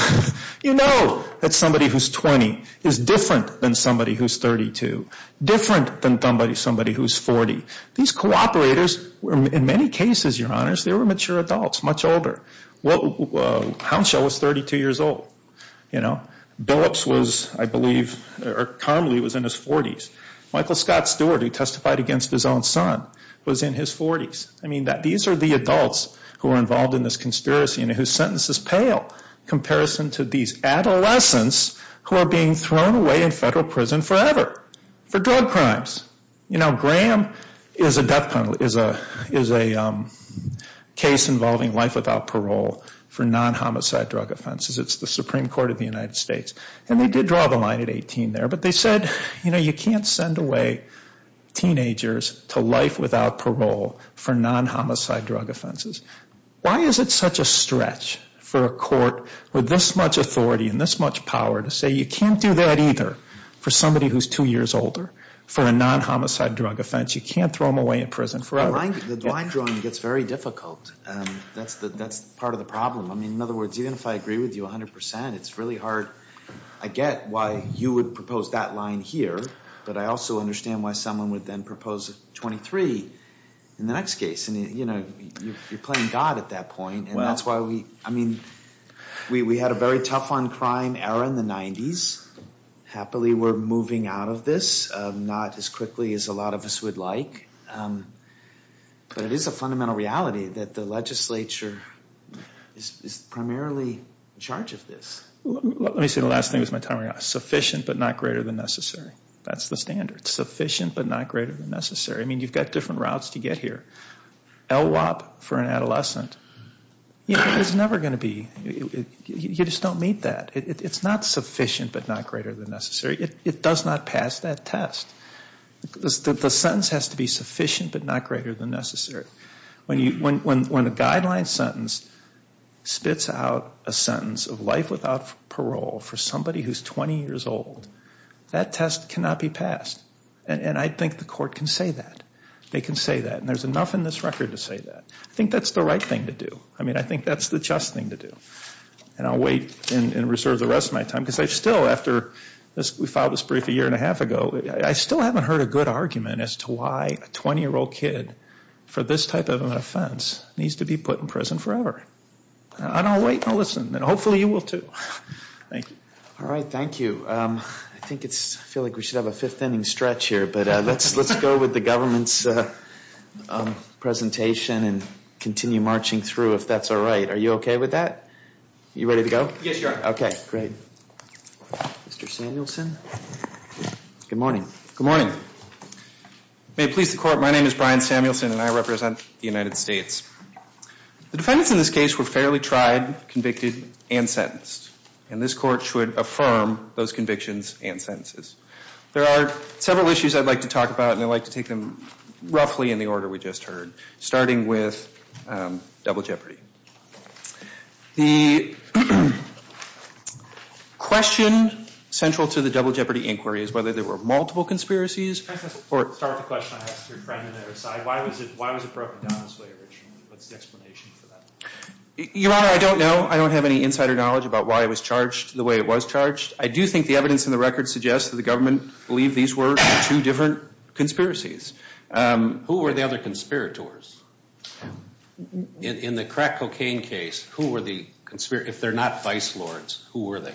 You know that somebody who's 20 is different than somebody who's 32, different than somebody who's 40. These cooperators, in many cases, Your Honors, they were mature adults, much older. Hounshell was 32 years old. Billups was, I believe, or Carmelin was in his 40s. Michael Scott Stewart, who testified against his own son, was in his 40s. I mean, these are the adults who are involved in this conspiracy, and his sentence is pale in comparison to these adolescents who are being thrown away in federal prison forever for drug crimes. You know, Graham is a case involving life without parole for non-homicide drug offenses. It's the Supreme Court of the United States. And they did draw the line at 18 there, but they said, you know, you can't send away teenagers to life without parole for non-homicide drug offenses. Why is it such a stretch for a court with this much authority and this much power to say you can't do that either for somebody who's two years older, for a non-homicide drug offense, you can't throw them away in prison forever? The line drawing gets very difficult. That's part of the problem. I mean, in other words, even if I agree with you 100%, it's really hard. I get why you would propose that line here, but I also understand why someone would then propose 23 in the next case. I mean, you know, you're playing God at that point. And that's why we, I mean, we had a very tough on crime era in the 90s. Happily, we're moving out of this, not as quickly as a lot of us would like. But it is a fundamental reality that the legislature is primarily in charge of this. Let me say the last thing with my time. It's sufficient but not greater than necessary. That's the standard. It's sufficient but not greater than necessary. I mean, you've got different routes to get here. LWOP for an adolescent, it's never going to be. You just don't meet that. It's not sufficient but not greater than necessary. It does not pass that test. The sentence has to be sufficient but not greater than necessary. When a guideline sentence spits out a sentence of life without parole for somebody who's 20 years old, that test cannot be passed. And I think the court can say that. They can say that. And there's enough in this record to say that. I think that's the right thing to do. I mean, I think that's the just thing to do. And I'll wait and reserve the rest of my time. Because I still, after we filed this brief a year and a half ago, I still haven't heard a good argument as to why a 20-year-old kid for this type of an offense needs to be put in prison forever. And I'll wait and I'll listen. And hopefully you will too. Thank you. All right. Thank you. I feel like we should have a fifth-inning stretch here. But let's go with the government's presentation and continue marching through if that's all right. Are you okay with that? You ready to go? Yes, Your Honor. Okay. Great. Mr. Samuelson. Good morning. Good morning. May it please the court, my name is Brian Samuelson and I represent the United States. The defendants in this case were fairly tried, convicted, and sentenced. And this court should affirm those convictions and sentences. There are several issues I'd like to talk about, and I'd like to take them roughly in the order we just heard, starting with double jeopardy. The question central to the double jeopardy inquiry is whether there were multiple conspiracies. Start the question, I'll ask you to try it on the other side. Why was it broken down this way? What's the explanation for that? Your Honor, I don't know. I don't have any insider knowledge about why it was charged the way it was charged. I do think the evidence in the record suggests that the government believed these were two different conspiracies. Who were the other conspirators? In the crack cocaine case, who were the conspirators? If they're not vice lords, who were they?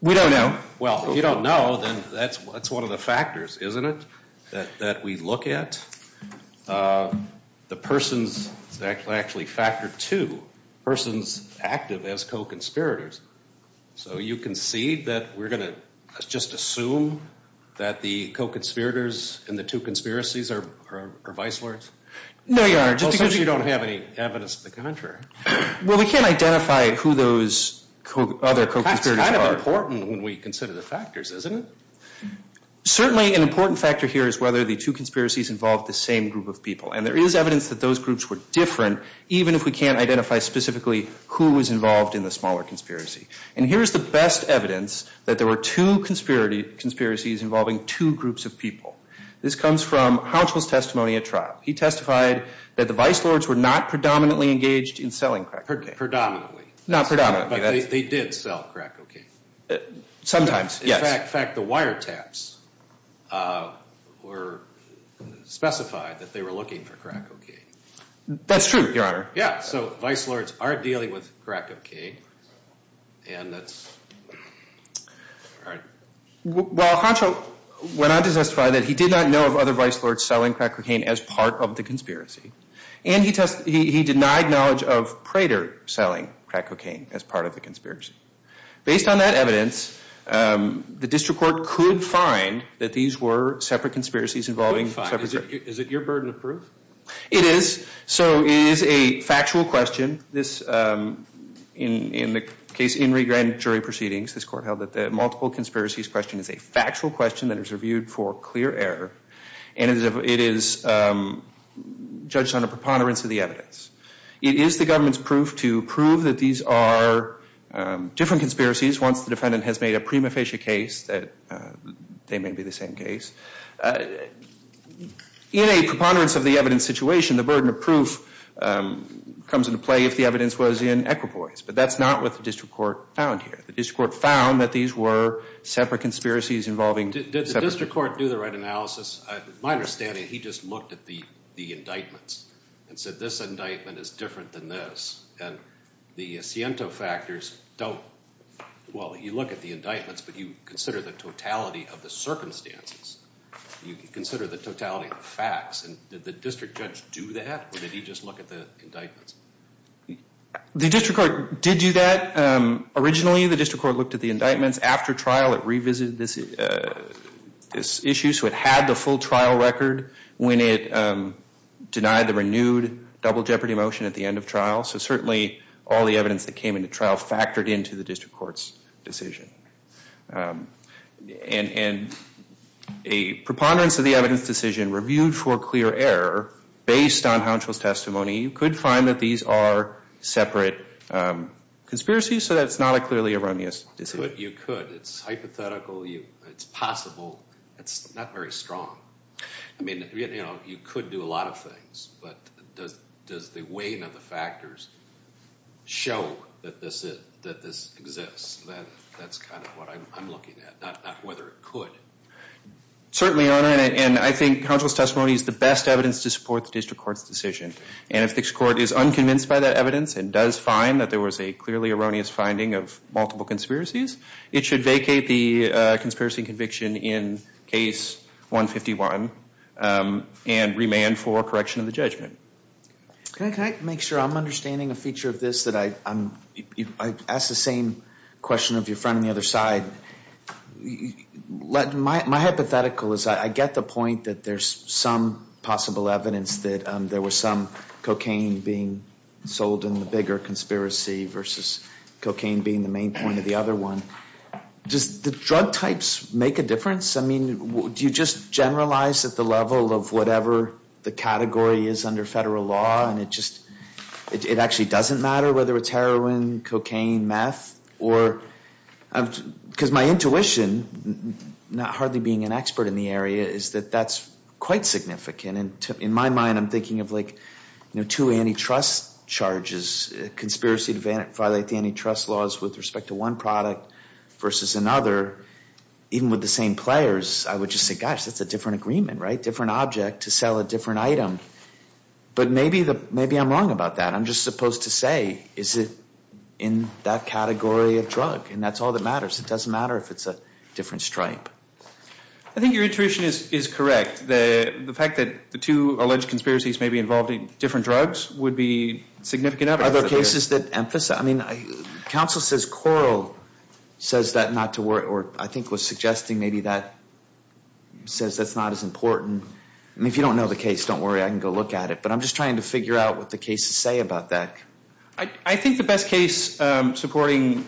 We don't know. Well, if you don't know, then that's one of the factors, isn't it, that we look at? The persons that actually factor two, persons active as co-conspirators. So you can see that we're going to just assume that the co-conspirators and the two conspiracies are vice lords? No, Your Honor. Just because you don't have any evidence of the conventioner. Well, we can't identify who those other co-conspirators are. It's kind of important when we consider the factors, isn't it? Certainly an important factor here is whether the two conspiracies involved the same group of people. And there is evidence that those groups were different, even if we can't identify specifically who was involved in the smaller conspiracy. And here's the best evidence that there were two conspiracies involving two groups of people. This comes from counsel's testimony at trial. He testified that the vice lords were not predominantly engaged in selling crack cocaine. Predominantly. Not predominantly. But they did sell crack cocaine. Sometimes, yes. In fact, the wiretaps were specified that they were looking for crack cocaine. That's true, Your Honor. Yeah, so vice lords aren't dealing with crack cocaine. Well, Hancho went on to testify that he did not know of other vice lords selling crack cocaine as part of the conspiracy. And he denied knowledge of Crater selling crack cocaine as part of the conspiracy. Based on that evidence, the district court could find that these were separate conspiracies involving separate groups. Is it your burden of proof? It is. So it is a factual question. In the case in regrand jury proceedings, this court held that the multiple conspiracies question is a factual question that is reviewed for clear error. And it is judged on a preponderance of the evidence. It is the government's proof to prove that these are different conspiracies once the defendant has made a prima facie case that they may be the same case. In a preponderance of the evidence situation, the burden of proof comes into play if the evidence was in equipoise. But that's not what the district court found here. The district court found that these were separate conspiracies involving separate groups. Did the district court do the right analysis? To my understanding, he just looked at the indictments and said this indictment is different than this. And the Siento factors don't, well, you look at the indictments but you consider the totality of the circumstances. You consider the totality of the facts. Did the district judge do that or did he just look at the indictments? The district court did do that. Originally, the district court looked at the indictments. After trial, it revisited this issue. So it had the full trial record when it denied the renewed double jeopardy motion at the end of trial. So certainly all the evidence that came into trial factored into the district court's decision. And a preponderance of the evidence decision reviewed for clear error based on Hounsfield's testimony, you could find that these are separate conspiracies. So that's not a clearly erroneous decision. You could. It's hypothetical. It's possible. It's not very strong. I mean, you could do a lot of things. But does the weight of the factors show that this exists? That's kind of what I'm looking at, not whether it could. Certainly, Your Honor, and I think Hounsfield's testimony is the best evidence to support the district court's decision. And if the court is unconvinced by that evidence and does find that there was a clearly erroneous finding of multiple conspiracies, it should vacate the conspiracy conviction in case 151 and remand for correction of the judgment. Can I make sure I'm understanding the feature of this? I asked the same question of your friend on the other side. My hypothetical is that I get the point that there's some possible evidence that there was some cocaine being sold in the bigger conspiracy versus cocaine being the main point of the other one. Does the drug types make a difference? I mean, do you just generalize at the level of whatever the category is under federal law and it actually doesn't matter whether it's heroin, cocaine, meth? Because my intuition, hardly being an expert in the area, is that that's quite significant. In my mind, I'm thinking of two antitrust charges, conspiracy to violate antitrust laws with respect to one product versus another. Even with the same players, I would just think, gosh, that's a different agreement, right? Different object to sell a different item. But maybe I'm wrong about that. I'm just supposed to say, is it in that category of drug? And that's all that matters. It doesn't matter if it's a different stripe. I think your intuition is correct. The fact that the two alleged conspiracies may be involved in different drugs would be significant evidence. Are there cases that emphasize? I mean, counsel says quarrel says that not to worry, or I think was suggesting maybe that says that's not as important. I mean, if you don't know the case, don't worry. I can go look at it. But I'm just trying to figure out what the cases say about that. I think the best case supporting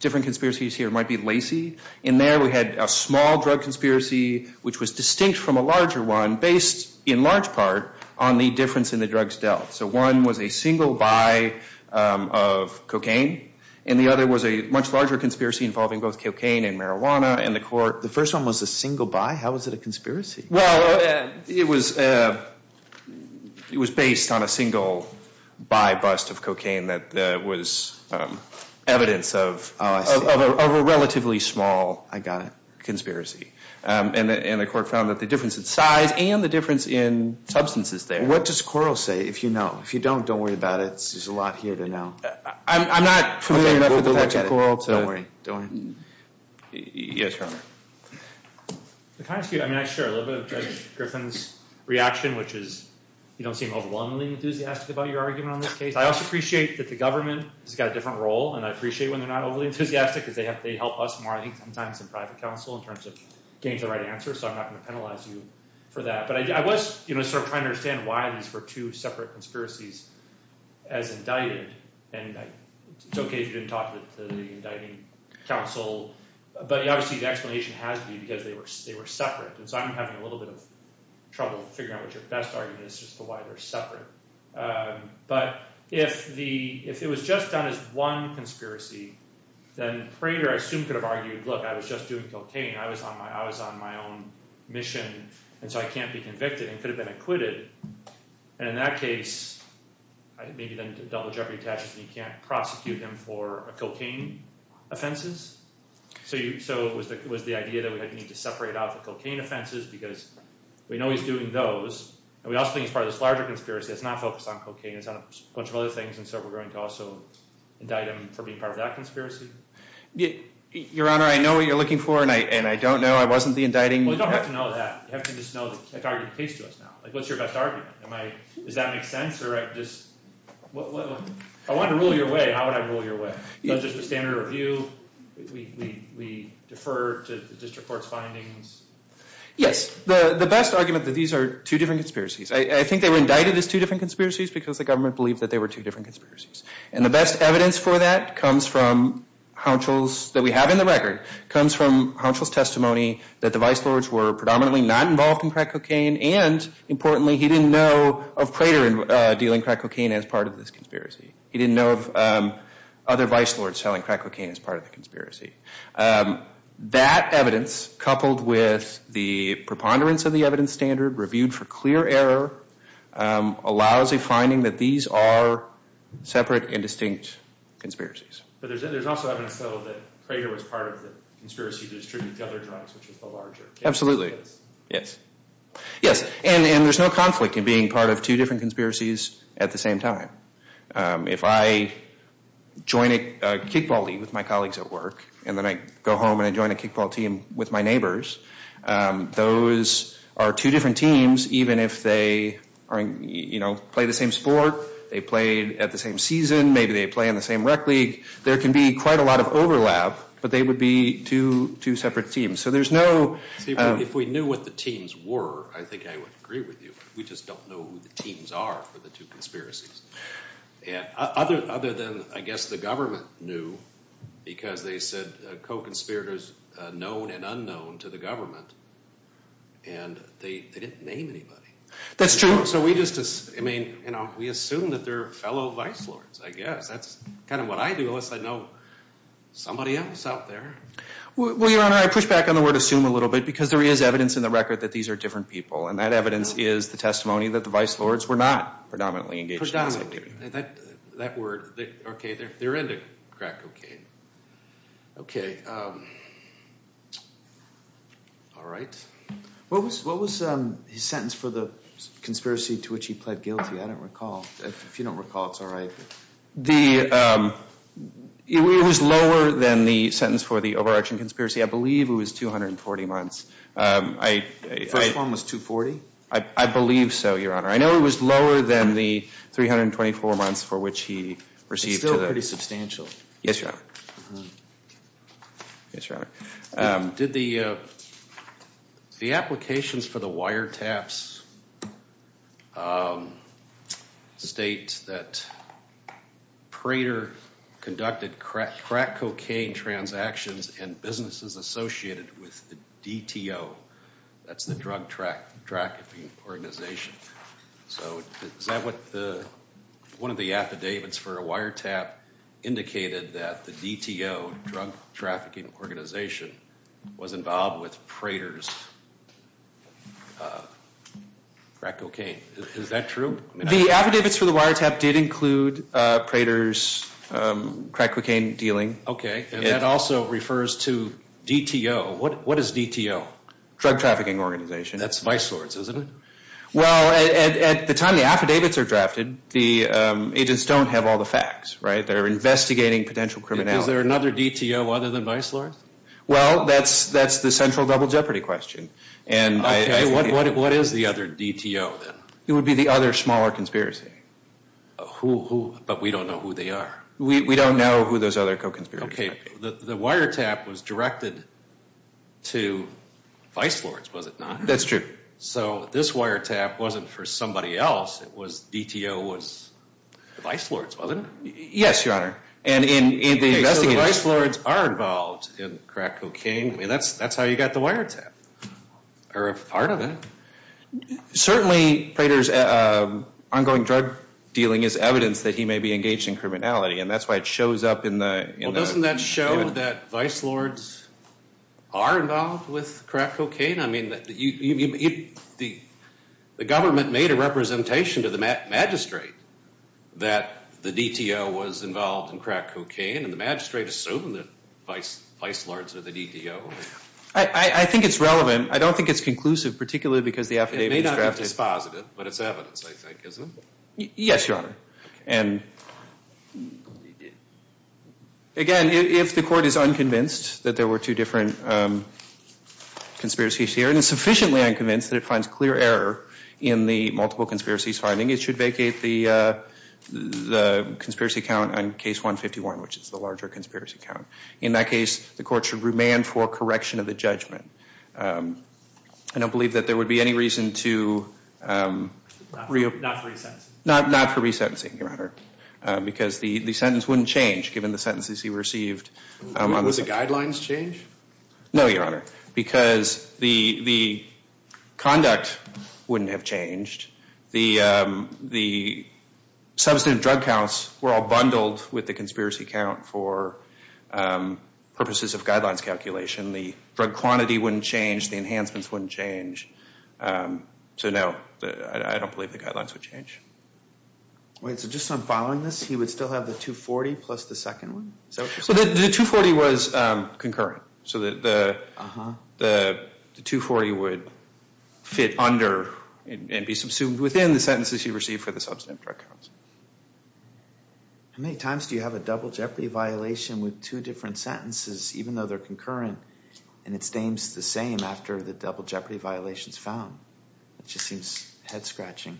different conspiracies here might be Lacey. In there, we had a small drug conspiracy, which was distinct from a larger one, based in large part on the difference in the drugs dealt. So one was a single buy of cocaine, and the other was a much larger conspiracy involving both cocaine and marijuana. The first one was a single buy? How was it a conspiracy? Well, it was based on a single buy bust of cocaine that was evidence of a relatively small conspiracy. And the court found that the difference in size and the difference in substances there. What does quarrel say? If you know. If you don't, don't worry about it. There's a lot here to know. I'm not familiar with the sex of quarrel. Don't worry. Yes, sir. Can I share a little bit of President Griffin's reaction, which is you don't seem overwhelmingly enthusiastic about your argument on this case. I also appreciate that the government has got a different role. And I appreciate when they're not overly enthusiastic, because they help us more, I think, sometimes in private counsel in terms of getting the right answer. So I'm not going to penalize you for that. But I was trying to understand why these were two separate conspiracies as indicted. And it's okay if you didn't talk to the indicting counsel. But obviously, the explanation has to be because they were separate. And so I'm having a little bit of trouble figuring out what your best argument is as to why they're separate. But if it was just done as one conspiracy, then a student could have argued, look, I was just doing cocaine. I was on my own mission. And so I can't be convicted. It could have been acquitted. And in that case, I think maybe then it's a double jeopardy test that you can't prosecute him for cocaine offenses. So it was the idea that we would need to separate out the cocaine offenses, because we know he's doing those. And we also think it's part of this larger conspiracy that's not focused on cocaine. It's on a bunch of other things. And so we're going to also indict him for being part of that conspiracy? Your Honor, I know who you're looking for. And I don't know. I wasn't the indicting counsel. We don't have to know that. What's your best argument? Does that make sense? I want to rule your way. How would I rule your way? Is this a standard review? We defer to the district court's findings? Yes. The best argument is that these are two different conspiracies. I think they were indicted as two different conspiracies because the government believed that they were two different conspiracies. And the best evidence for that comes from Hounschel's, that we have in the record, comes from Hounschel's testimony that the vice lords were predominantly not involved in crack cocaine, and importantly, he didn't know of Crater dealing crack cocaine as part of this conspiracy. He didn't know of other vice lords selling crack cocaine as part of the conspiracy. That evidence, coupled with the preponderance of the evidence standard, reviewed for clear error, allows a finding that these are separate and distinct conspiracies. But there's also evidence that Crater was part of the conspiracy to distribute the other drugs, which is a larger case. Absolutely. Yes. Yes, and there's no conflict in being part of two different conspiracies at the same time. If I join a kickball team with my colleagues at work, and then I go home and I join a kickball team with my neighbors, those are two different teams, even if they play the same sport, they play at the same season, maybe they play in the same rec league, there can be quite a lot of overlap, but they would be two separate teams. If we knew what the teams were, I think I would agree with you. We just don't know who the teams are for the two conspiracies. Other than, I guess, the government knew, because they said co-conspirators known and unknown to the government, and they didn't name anybody. That's true. We assume that they're fellow vice lords, I guess. That's kind of what I do, unless I know somebody else out there. Well, Your Honor, I push back on the word assume a little bit, because there is evidence in the record that these are different people, and that evidence is the testimony that the vice lords were not predominantly engaged in that activity. That word, okay, there is a crack, okay. Okay. All right. What was his sentence for the conspiracy to which he pled guilty? I don't recall. If you don't recall, it's all right. It was lower than the sentence for the over-action conspiracy. I believe it was 240 months. The first one was 240? I believe so, Your Honor. I know it was lower than the 324 months for which he received... It's still pretty substantial. Yes, Your Honor. Yes, Your Honor. Did the applications for the wiretaps state that Prater conducted crack cocaine transactions in businesses associated with DTO? That's the drug trafficking organization. So is that what one of the affidavits for a wiretap indicated that the DTO, drug trafficking organization, was involved with Prater's crack cocaine? Is that true? The affidavits for the wiretap did include Prater's crack cocaine dealing. Okay. And that also refers to DTO. What is DTO? Drug trafficking organization. That's vice lords, isn't it? Well, at the time the affidavits are drafted, the agents don't have all the facts, right? They're investigating potential criminality. Is there another DTO other than vice lords? Well, that's the central double jeopardy question. Okay. What is the other DTO then? It would be the other smaller conspiracy. Who? But we don't know who they are. We don't know who those other co-conspirators are. Okay. The wiretap was directed to vice lords, was it not? That's true. So, this wiretap wasn't for somebody else. DTO was vice lords, was it? Yes, your honor. And in the investigation... Okay, so vice lords are involved in crack cocaine. That's how you got the wiretap. Or a part of it. Certainly, Prater's ongoing drug dealing is evidence that he may be engaged in criminality. And that's why it shows up in the... Well, doesn't that show that vice lords are involved with crack cocaine? I mean, the government made a representation to the magistrate that the DTO was involved in crack cocaine. And the magistrate assumed that vice lords are the DTO. I think it's relevant. I don't think it's conclusive, particularly because the affidavit... It may not have to be positive, but it's evidence, I think, isn't it? Yes, your honor. Again, if the court is unconvinced that there were two different conspiracies here, and sufficiently unconvinced that it finds clear error in the multiple conspiracies finding, it should vacate the conspiracy count on case 151, which is the larger conspiracy count. In that case, the court should remand for correction of the judgment. I don't believe that there would be any reason to... Not for reset. Not for resetting, your honor, because the sentence wouldn't change given the sentences he received. Would the guidelines change? No, your honor, because the conduct wouldn't have changed. The substantive drug counts were all bundled with the conspiracy count for purposes of guidelines calculation. The drug quantity wouldn't change. The enhancements wouldn't change. So no, I don't believe the guidelines would change. All right, so just on filing this, he would still have the 240 plus the second one? The 240 was concurrent. So the 240 would fit under and be subsumed within the sentences he received for the substantive drug counts. How many times do you have a double jeopardy violation with two different sentences, even though they're concurrent, and it stays the same after the double jeopardy violation is found? It just seems head scratching.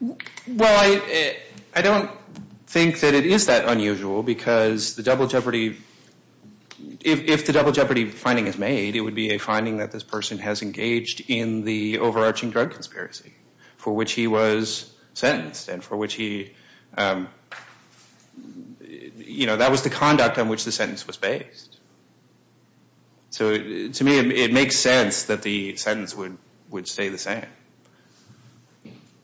Well, I don't think that it is that unusual because the double jeopardy... If the double jeopardy finding is made, it would be a finding that this person has engaged in the overarching drug conspiracy for which he was sentenced and for which he... That was the conduct on which the sentence was based. So to me, it makes sense that the sentence would stay the same.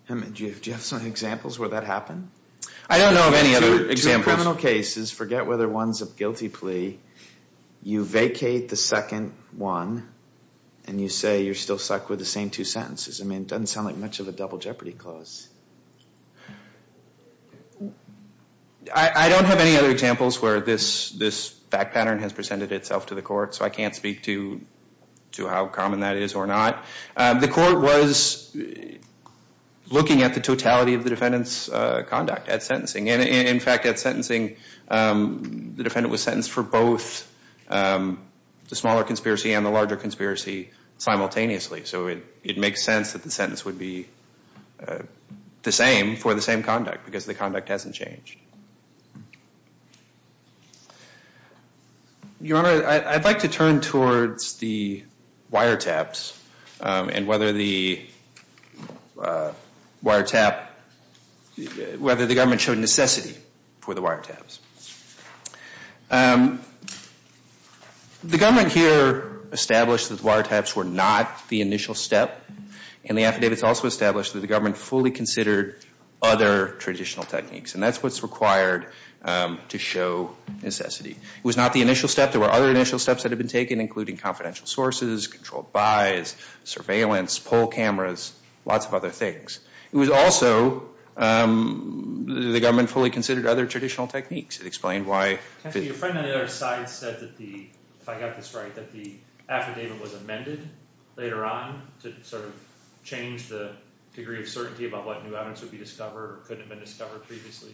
Do you have some examples where that happened? I don't know of any other examples. In criminal cases, forget whether one's a guilty plea, you vacate the second one and you say you're still stuck with the same two sentences. I mean, it doesn't sound like much of a double jeopardy cause. I don't have any other examples where this fact pattern has presented itself to the court, so I can't speak to how common that is or not. The court was looking at the totality of the defendant's conduct at sentencing. In fact, at sentencing, the defendant was sentenced for both the smaller conspiracy and the larger conspiracy simultaneously. So it makes sense that the sentence would be the same for the same conduct because the conduct hasn't changed. Your Honor, I'd like to turn towards the wiretaps and whether the government showed necessity for the wiretaps. The government here established that wiretaps were not the initial step, and the affidavits also established that the government fully considered other traditional techniques, and that's what's required to show necessity. It was not the initial step. There were other initial steps that had been taken, including confidential sources, controlled buys, surveillance, poll cameras, lots of other things. It was also that the government fully considered other traditional techniques. Can you explain why? Your friend on the other side said, if I got this right, that the affidavit was amended later on to sort of change the degree of certainty about what new evidence would be discovered or could have been discovered previously.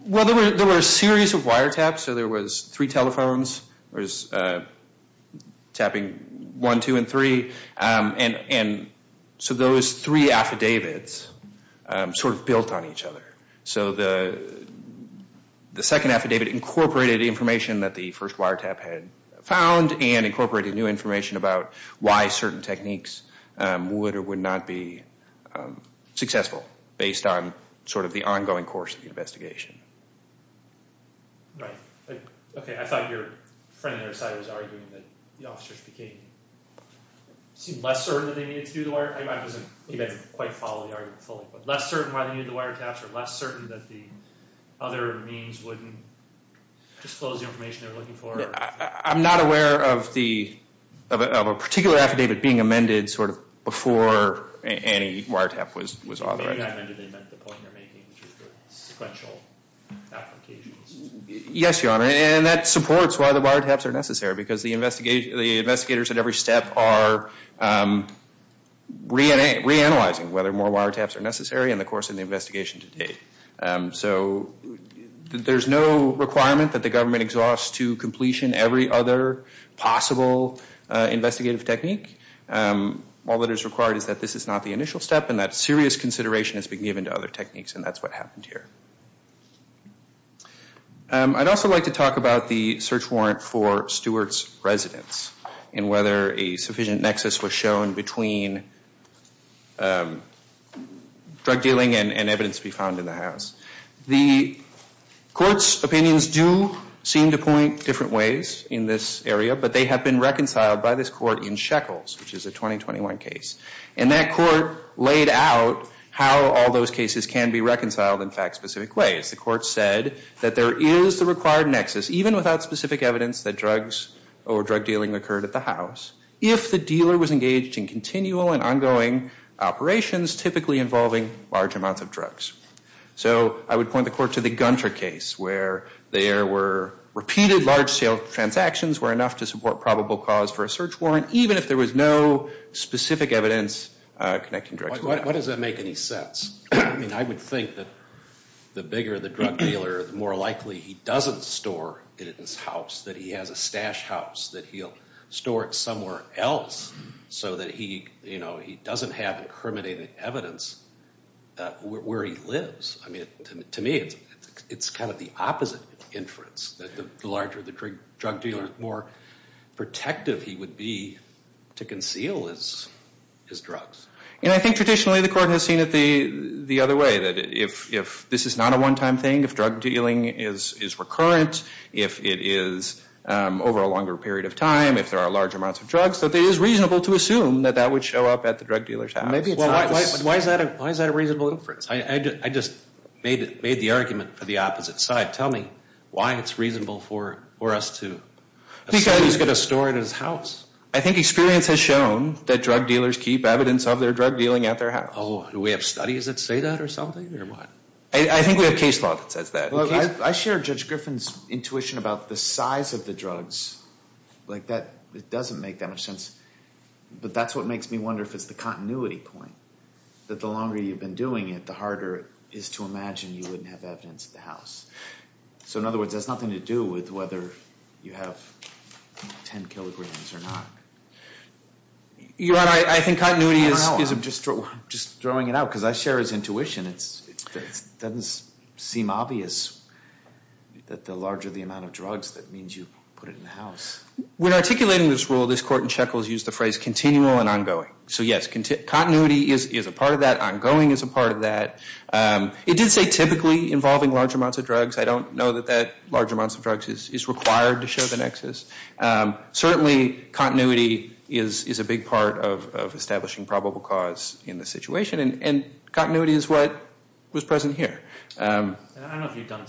Well, there were a series of wiretaps. There were three telephones tapping one, two, and three. And so those three affidavits sort of built on each other. So the second affidavit incorporated the information that the first wiretap had found and incorporated new information about why certain techniques would or would not be successful based on sort of the ongoing course of the investigation. Right. Okay. I thought your friend on the other side was arguing that the officers became less certain that they needed to do the wiretap. I mean, I wasn't quite following the argument fully, but less certain why they needed the wiretaps or less certain that the other means wouldn't disclose the information they were looking for? I'm not aware of a particular affidavit being amended sort of before any wiretap was authorized. We haven't amended them at the point of making the sequential applications. Yes, Your Honor, and that supports why the wiretaps are necessary because the investigators at every step are reanalyzing whether more wiretaps are necessary in the course of the investigation to date. So there's no requirement that the government exhausts to completion every other possible investigative technique. All that is required is that this is not the initial step and that serious consideration has been given to other techniques, and that's what happened here. I'd also like to talk about the search warrant for Stewart's residence and whether a sufficient nexus was shown between drug dealing and evidence to be found in the house. The court's opinions do seem to point different ways in this area, but they have been reconciled by this court in Sheckles, which is a 2021 case, and that court laid out how all those cases can be reconciled in fact-specific ways. The court said that there is a required nexus, even without specific evidence, that drugs or drug dealing occurred at the house if the dealer was engaged in continual and ongoing operations typically involving large amounts of drugs. So I would point the court to the Gunter case where there were repeated large-scale transactions were enough to support probable cause for a search warrant, even if there was no specific evidence connecting drugs. What does that make any sense? I would think that the bigger the drug dealer, the more likely he doesn't store it in his house, that he has a stash house that he'll store it somewhere else so that he doesn't have incriminating evidence where he lives. To me, it's kind of the opposite inference, that the larger the drug dealer, the more protective he would be to conceal his drugs. And I think traditionally the court has seen it the other way, that if this is not a one-time thing, if drug dealing is recurrent, if it is over a longer period of time, if there are large amounts of drugs, that it is reasonable to assume that that would show up at the drug dealer's house. Why is that a reasonable inference? I just made the argument for the opposite side. Tell me why it's reasonable for us to assume he's going to store it in his house. I think experience has shown that drug dealers keep evidence of their drug dealing at their house. Oh, do we have studies that say that or something, or what? I think we have case law that says that. I share Judge Griffin's intuition about the size of the drugs. It doesn't make any sense. But that's what makes me wonder if it's the continuity point, that the longer you've been doing it, the harder it is to imagine you wouldn't have evidence at the house. So in other words, there's nothing to do with whether you have 10 kilograms or not. I think continuity is just throwing it out, because I share his intuition. It doesn't seem obvious that the larger the amount of drugs, that means you put it in the house. When articulating this rule, this court in Shekels used the phrase continual and ongoing. So yes, continuity is a part of that. Ongoing is a part of that. It did say typically involving large amounts of drugs. I don't know that large amounts of drugs is required to show the nexus. Certainly, continuity is a big part of establishing probable cause in the situation, and continuity is what was present here. I don't know if you've done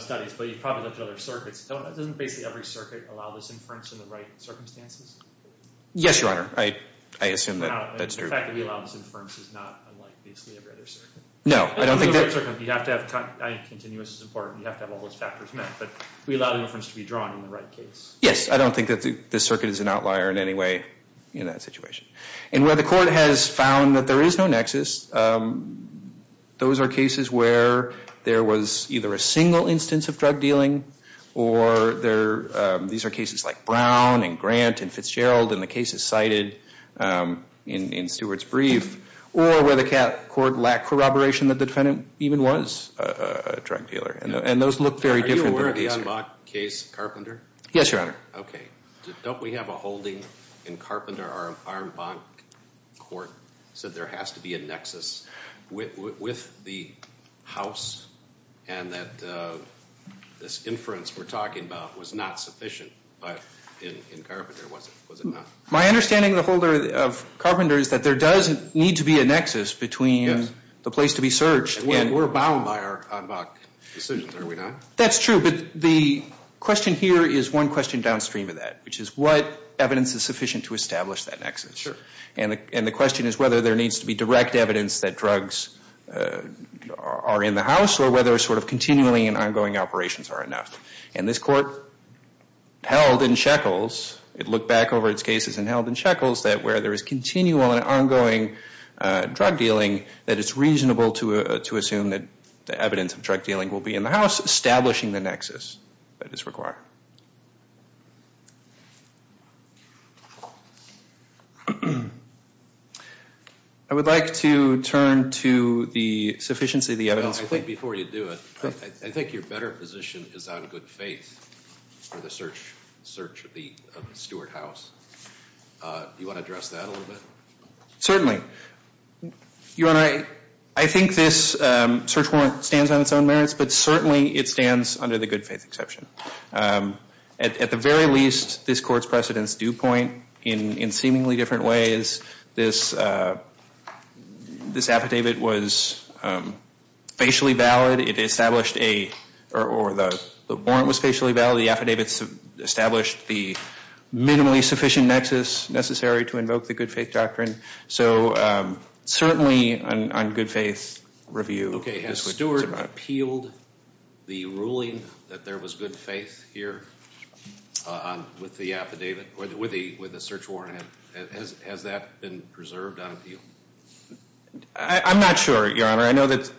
studies, but you've probably looked at other circuits. Doesn't basically every circuit allow this inference in the right circumstances? Yes, Your Honor. I assume that's true. The fact that we allow this inference is not unlike basically every other circuit. No, I don't think that's true. Continuous is important. You have to have all those factors met, but we allow inference to be drawn in the right case. Yes, I don't think that this circuit is an outlier in any way in that situation. Where the court has found that there is no nexus, those are cases where there was either a single instance of drug dealing, or these are cases like Brown and Grant and Fitzgerald, and the cases cited in Seward's brief, or where the court lacked corroboration that the defendant even was a drug dealer. And those look very different. Are you aware of the Ironbock case, Carpenter? Yes, Your Honor. Okay. Don't we have a holding in Carpenter, our Ironbock court said there has to be a nexus with the house, and that this inference we're talking about was not sufficient in Carpenter. Was it not? My understanding of Carpenter is that there does need to be a nexus between the place to be searched. We're bound by our Ironbock decisions, are we not? That's true, but the question here is one question downstream of that, which is what evidence is sufficient to establish that nexus. Sure. And the question is whether there needs to be direct evidence that drugs are in the house, or whether sort of continuing and ongoing operations are enough. And this court held in Sheckles, it looked back over its cases and held in Sheckles that where there is continual and ongoing drug dealing, that it's reasonable to assume that the evidence of drug dealing will be in the house, establishing the nexus that is required. I would like to turn to the sufficiency of the evidence. I think before you do it, I think your better position is on good faith for the search of the Stewart house. Do you want to address that a little bit? Certainly. I think this search warrant stands on its own merits, but certainly it stands under the good faith exception. At the very least, this court's precedent's due point, in seemingly different ways, this affidavit was facially valid, or the warrant was facially valid, the affidavit established the minimally sufficient nexus necessary to invoke the good faith doctrine. So certainly on good faith review. Has Stewart appealed the ruling that there was good faith here with the search warrant? Has that been preserved on appeal? I'm not sure, Your Honor. I know that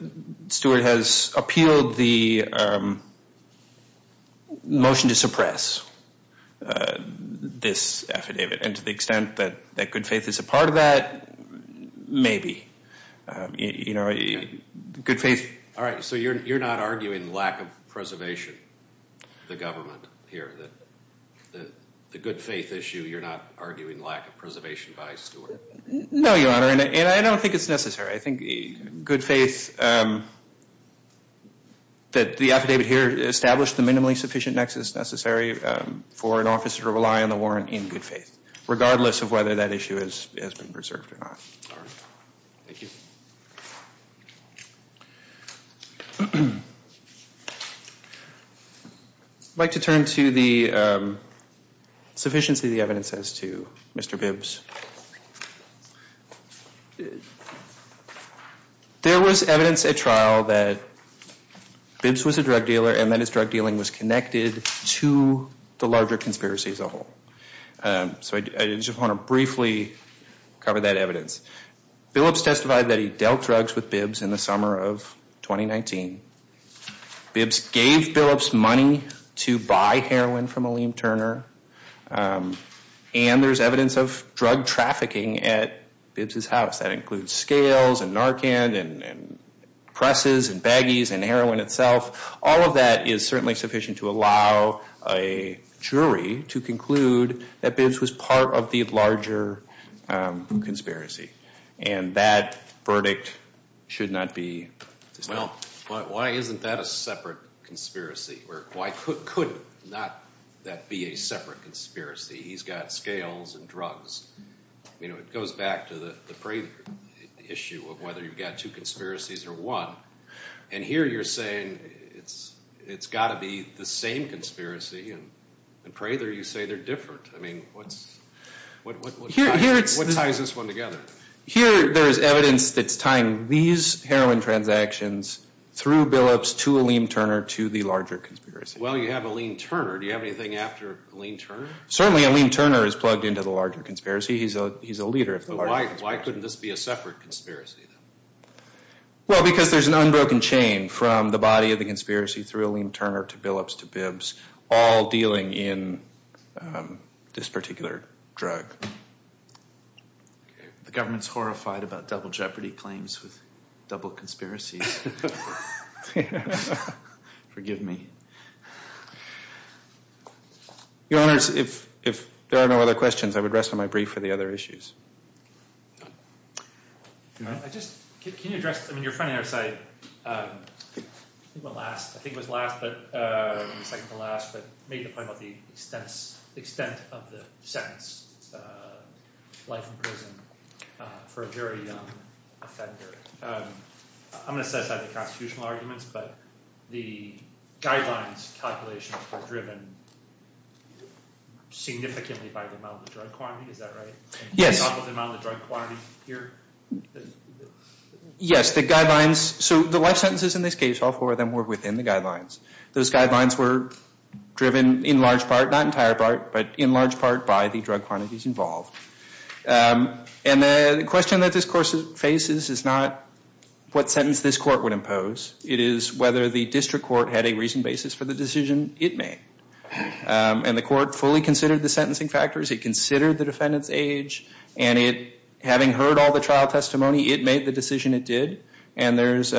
Stewart has appealed the motion to suppress this affidavit, and to the extent that good faith is a part of that, maybe. All right, so you're not arguing lack of preservation of the government here? The good faith issue, you're not arguing lack of preservation by Stewart? No, Your Honor, and I don't think it's necessary. I think good faith, that the affidavit here established the minimally sufficient nexus necessary for an officer to rely on the warrant in good faith, regardless of whether that issue has been preserved or not. Thank you. I'd like to turn to the sufficiency of the evidence as to Mr. Bibbs. There was evidence at trial that Bibbs was a drug dealer, and that his drug dealing was connected to the larger conspiracy as a whole. So I just want to briefly cover that evidence. Bibbs testified that he dealt drugs with Bibbs in the summer of 2019. Bibbs gave Bibbs money to buy heroin from Aleem Turner, and there's evidence of drug trafficking at Bibbs' house. That includes scales and Narcan and presses and baggies and heroin itself. All of that is certainly sufficient to allow a jury to conclude that Bibbs was part of the larger conspiracy, and that verdict should not be dismissed. Well, why isn't that a separate conspiracy? Why could not that be a separate conspiracy? He's got scales and drugs. It goes back to the frame issue of whether you've got two conspiracies or one, and here you're saying it's got to be the same conspiracy, and Craitor, you say they're different. I mean, what ties this one together? Here there is evidence that's tying these heroin transactions through Billups to Aleem Turner to the larger conspiracy. Well, you have Aleem Turner. Do you have anything after Aleem Turner? Certainly, Aleem Turner is plugged into the larger conspiracy. He's a leader of the larger conspiracy. Why couldn't this be a separate conspiracy? Well, because there's an unbroken chain from the body of the conspiracy through Aleem Turner to Billups to Bibbs, all dealing in this particular drug. The government's horrified about double jeopardy claims with double conspiracies. Forgive me. Your Honor, if there are no other questions, I would rest on my brief for the other issues. Can you address – I mean, you're pointing out the last – I think it was the second to last, but maybe talk about the extent of the sentence like in prison for a very young offender. I'm going to set aside the constitutional arguments, but the guidelines calculation are driven significantly by the amount of drug quantity. Is that right? Yes. Yes, the guidelines – so the life sentences in this case, all four of them were within the guidelines. Those guidelines were driven in large part, not entire part, but in large part by the drug quantities involved. And the question that this court faces is not what sentence this court would impose. It is whether the district court had a reasoned basis for the decision it made. And the court fully considered the sentencing factors. It considered the defendant's age. And having heard all the trial testimony, it made the decision it did. And there's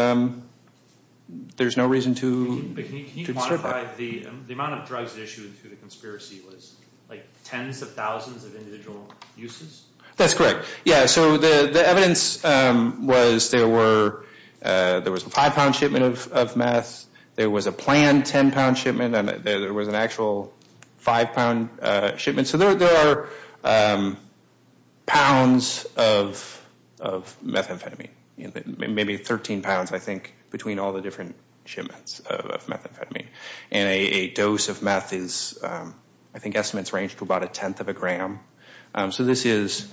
no reason to – Can you quantify the amount of drugs issued through the conspiracy was like tens of thousands of individual uses? That's correct. Yeah, so the evidence was there was a five-pound shipment of meth. There was a planned ten-pound shipment. There was an actual five-pound shipment. So there are pounds of methamphetamine, maybe 13 pounds, I think, between all the different shipments of methamphetamine. And a dose of meth is – I think estimates range to about a tenth of a gram. So this is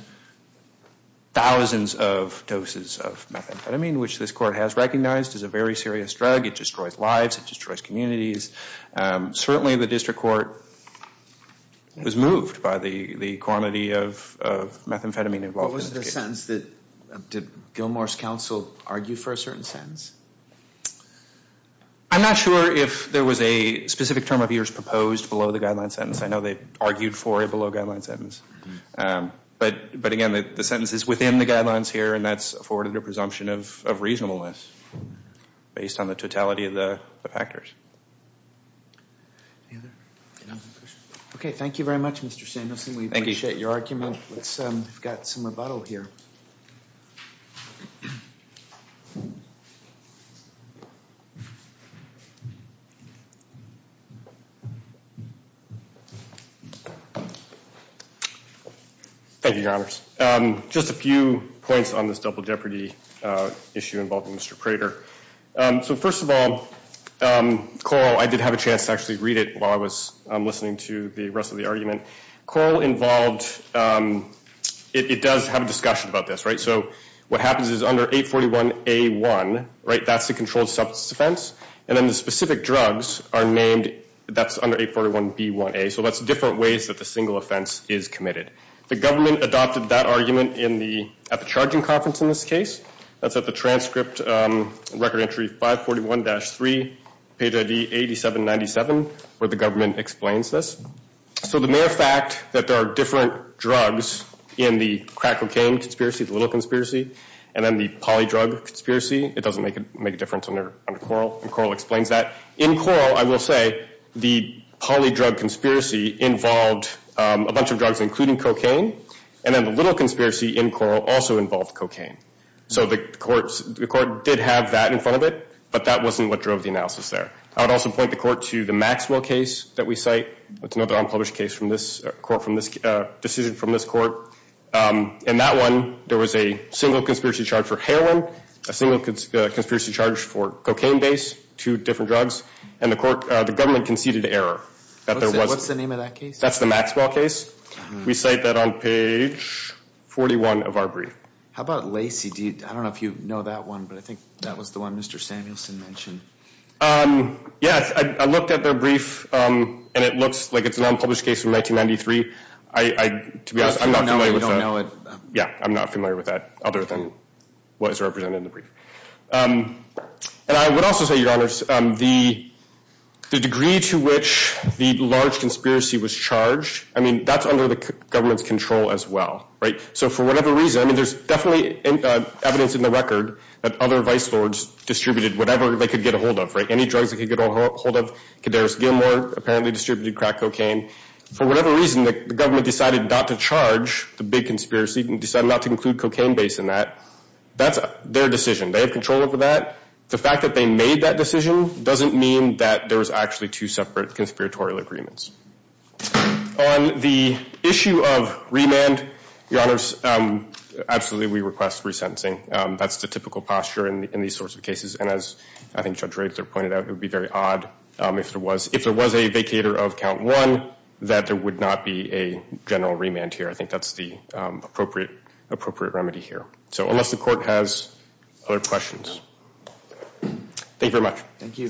thousands of doses of methamphetamine, which this court has recognized is a very serious drug. It destroys lives. It destroys communities. Certainly the district court was moved by the quantity of methamphetamine involved. Was there a sense that – did Gilmour's counsel argue for a certain sentence? I'm not sure if there was a specific term of use proposed below the guideline sentence. I know they argued for a below-guideline sentence. But, again, the sentence is within the guidelines here, and that's afforded a presumption of reasonableness based on the totality of the factors. Okay. Thank you very much, Mr. Sanderson. We appreciate your argument. Let's get some rebuttal here. Thank you, Your Honors. Just a few points on this double jeopardy issue involving Mr. Craitor. So, first of all, Coral – I did have a chance to actually read it while I was listening to the rest of the argument. Coral involved – it does have a discussion about this, right? So what happens is under 841A1, right, that's the controlled substance offense. And then the specific drugs are named – that's under 841B1A. So that's different ways that the single offense is committed. The government adopted that argument at the charging conference in this case. That's at the transcript record entry 541-3, BID 8797, where the government explains this. So the mere fact that there are different drugs in the crack cocaine conspiracy, the little conspiracy, and then the poly drug conspiracy, it doesn't make a difference under Coral, and Coral explains that. In Coral, I will say, the poly drug conspiracy involved a bunch of drugs, including cocaine, and then the little conspiracy in Coral also involved cocaine. So the court did have that in front of it, but that wasn't what drove the analysis there. I would also point the court to the Maxwell case that we cite. That's another unpublished case from this court – a decision from this court. In that one, there was a single conspiracy charge for heroin, a single conspiracy charge for cocaine-based, two different drugs, and the court – the government conceded error that there was – What's the name of that case? That's the Maxwell case. We cite that on page 41 of our brief. How about Lacey? I don't know if you know that one, but I think that was the one Mr. Samuelson mentioned. Yeah, I looked at the brief, and it looks like it's an unpublished case from 1993. I'm not familiar with that. You don't know it? Yeah, I'm not familiar with that other than what is represented in the brief. I would also say, Your Honors, the degree to which the large conspiracy was charged, that's under the government's control as well. So for whatever reason – there's definitely evidence in the record that other vice lords distributed whatever they could get a hold of. Any drugs they could get a hold of – Kedaris Gilmore apparently distributed crack cocaine. For whatever reason, the government decided not to charge the big conspiracy and decided not to include cocaine based on that. That's their decision. They have control over that. The fact that they made that decision doesn't mean that there was actually two separate conspiratorial agreements. On the issue of remand, Your Honors, absolutely we request resentencing. That's the typical posture in these sorts of cases, and as I think Judge Ransom pointed out, it would be very odd if there was a vacator of count one that there would not be a general remand here. I think that's the appropriate remedy here. So unless the court has other questions. Thank you very much. Thank you.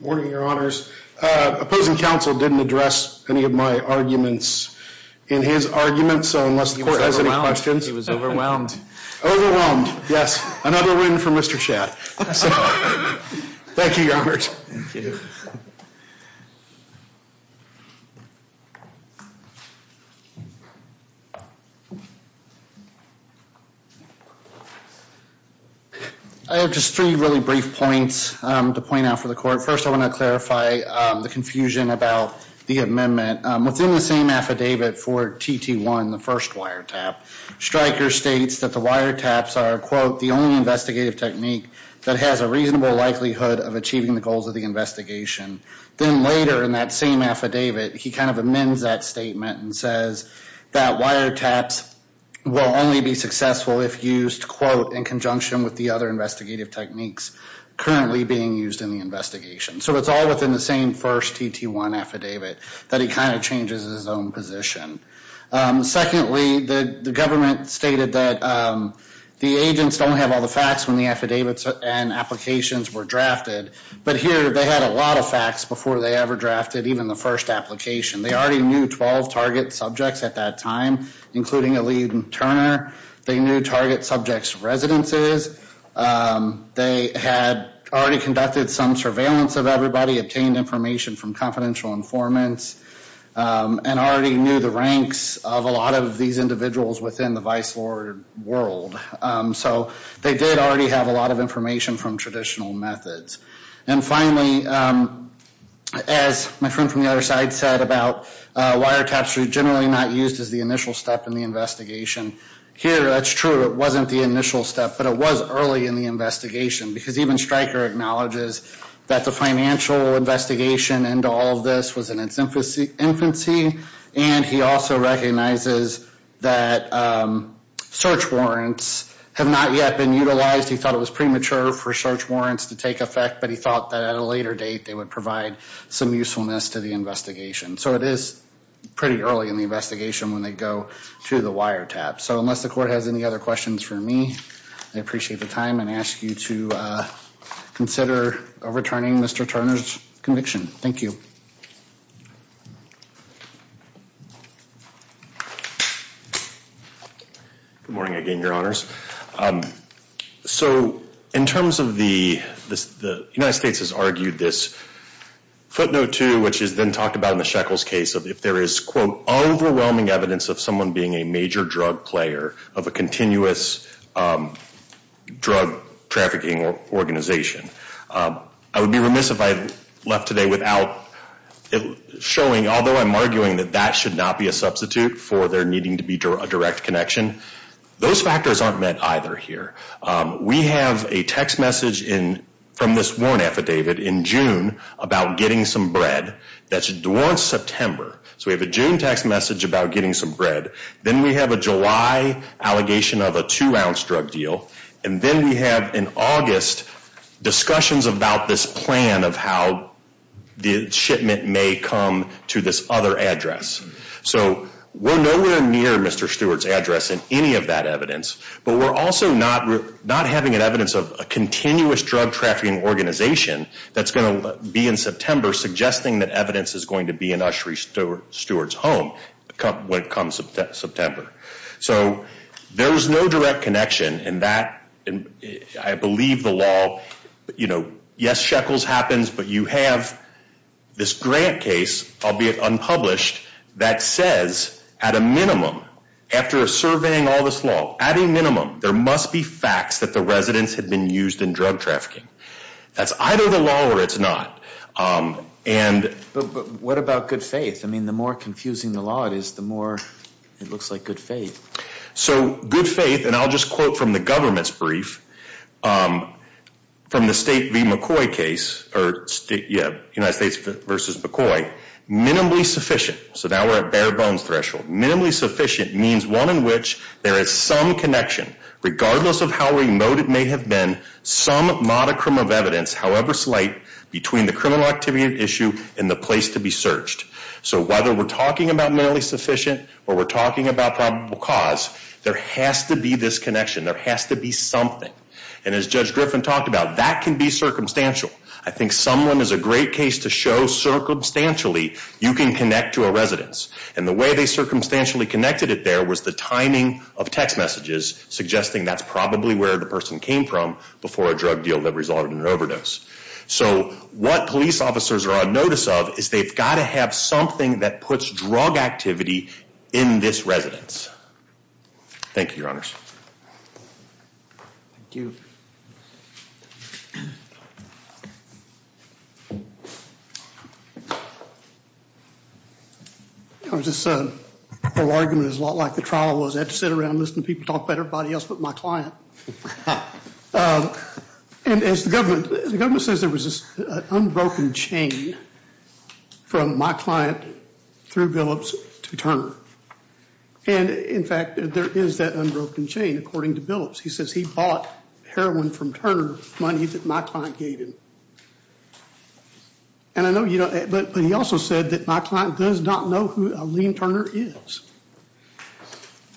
Good morning, Your Honors. Opposing counsel didn't address any of my arguments in his argument, so unless the court has any questions – Overwhelmed, yes. Another win for Mr. Schatz. Thank you, Your Honors. I have just three really brief points to point out for the court. First I want to clarify the confusion about the amendment. Within the same affidavit for TT1, the first wiretap, Stryker states that the wiretaps are, quote, the only investigative technique that has a reasonable likelihood of achieving the goals of the investigation. Then later in that same affidavit, he kind of amends that statement and says that wiretaps will only be successful if used, quote, in conjunction with the other investigative techniques currently being used in the investigation. So it's all within the same first TT1 affidavit, but he kind of changes his own position. Secondly, the government stated that the agents don't have all the facts when the affidavits and applications were drafted, but here they had a lot of facts before they ever drafted even the first application. They already knew 12 target subjects at that time, including Elise and Turner. They knew target subjects' residences. They had already conducted some surveillance of everybody, obtained information from confidential informants, and already knew the ranks of a lot of these individuals within the vice board world. So they did already have a lot of information from traditional methods. And finally, as my friend from the other side said about wiretaps generally not used as the initial step in the investigation, here that's true. It wasn't the initial step, but it was early in the investigation because even Stryker acknowledges that the financial investigation into all of this was in its infancy, and he also recognizes that search warrants have not yet been utilized. He thought it was premature for search warrants to take effect, but he thought that at a later date they would provide some usefulness to the investigation. So it is pretty early in the investigation when they go through the wiretap. So unless the court has any other questions for me, I appreciate the time and ask you to consider overturning Mr. Turner's conviction. Thank you. Good morning again, Your Honors. So in terms of the United States has argued this footnote too, which has been talked about in the Shekels case, if there is, quote, overwhelming evidence of someone being a major drug player of a continuous drug trafficking organization. I would be remiss if I had left today without it showing, although I'm arguing that that should not be a substitute for there needing to be a direct connection. Those factors aren't met either here. We have a text message from this warrant affidavit in June about getting some bread. That's during September. So we have a June text message about getting some bread. Then we have a July allegation of a two-ounce drug deal, and then we have in August discussions about this plan of how the shipment may come to this other address. So we're nowhere near Mr. Stewart's address in any of that evidence, but we're also not having an evidence of a continuous drug trafficking organization that's going to be in September suggesting that evidence is going to be in Ushery Stewart's home when it comes to September. So there was no direct connection, and I believe the law, you know, yes, Shekels happens, but you have this grant case, albeit unpublished, that says at a minimum, after surveying all this law, at a minimum, there must be facts that the residents had been used in drug trafficking. That's either the law or it's not. But what about good faith? I mean, the more confusing the law is, the more it looks like good faith. So good faith, and I'll just quote from the government's brief, from the State v. McCoy case, or United States v. McCoy, minimally sufficient, so now we're at bare bones threshold, minimally sufficient means one in which there is some connection, regardless of how remote it may have been, some modicum of evidence, however slight, between the criminal activity at issue and the place to be searched. So whether we're talking about minimally sufficient or we're talking about probable cause, there has to be this connection. There has to be something. And as Judge Griffin talked about, that can be circumstantial. I think Sumlin is a great case to show circumstantially you can connect to a residence. And the way they circumstantially connected it there was the timing of text messages suggesting that's probably where the person came from before a drug deal that resulted in an overdose. So what police officers are on notice of is they've got to have something that puts drug activity in this residence. Thank you, Your Honors. Thank you. This whole argument is a lot like the trial was. I had to sit around and listen to people talk about everybody else but my client. And as the government says, there was this unbroken chain from my client through Billups to Turner. And, in fact, there is that unbroken chain, according to Billups. He says he bought heroin from Turner, money that my client gave him. And I know you don't... But he also said that my client does not know who Liam Turner is.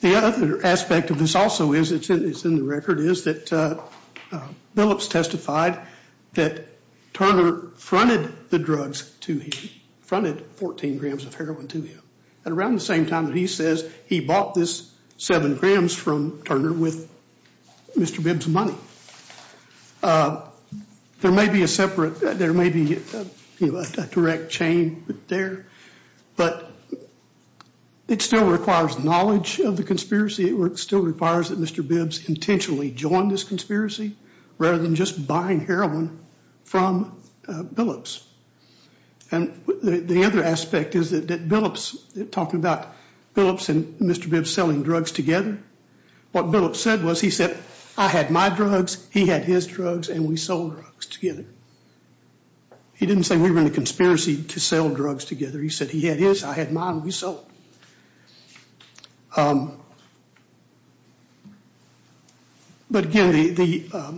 The other aspect of this also is, it's in the record, is that Billups testified that Turner fronted the drugs to me, fronted 14 grams of heroin to me. And around the same time, he says he bought this 7 grams from Turner with Mr. Bibbs' money. There may be a separate... There may be a direct chain there, but it still requires knowledge of the conspiracy. It still requires that Mr. Bibbs intentionally join this conspiracy rather than just buying heroin from Billups. And the other aspect is that Billups, talking about Billups and Mr. Bibbs selling drugs together, what Billups said was, he said, I had my drugs, he had his drugs, and we sold drugs together. He didn't say we were in a conspiracy to sell drugs together. He said he had his, I had mine, we sold. But, again, the...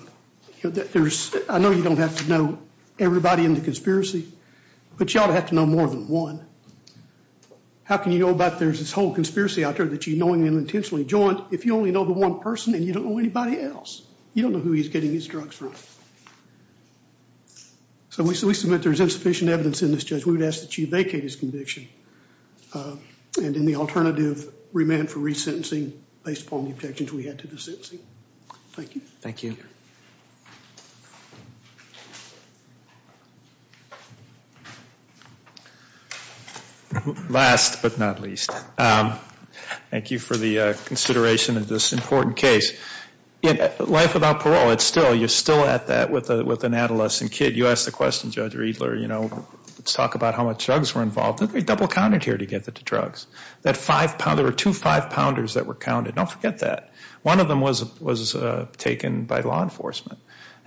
There's... I know you don't have to know everybody in the conspiracy, but you ought to have to know more than one. How can you know about there's this whole conspiracy out there that you're knowing them intentionally? John, if you only know the one person and you don't know anybody else, you don't know who he's getting these drugs from. So we submit there's insufficient evidence in this case. We would ask that you vacate his conviction and any alternative remand for resentencing based upon the objections we had to the sentencing. Thank you. Thank you. Last but not least, thank you for the consideration of this important case. Life without parole, it's still... You're still at that with an adolescent kid. You asked the question, Judge Riedler, you know, let's talk about how much drugs were involved. We double counted here to get the drugs. That five pound... There were two five-pounders that were counted. Don't forget that. One of them was taken by law enforcement.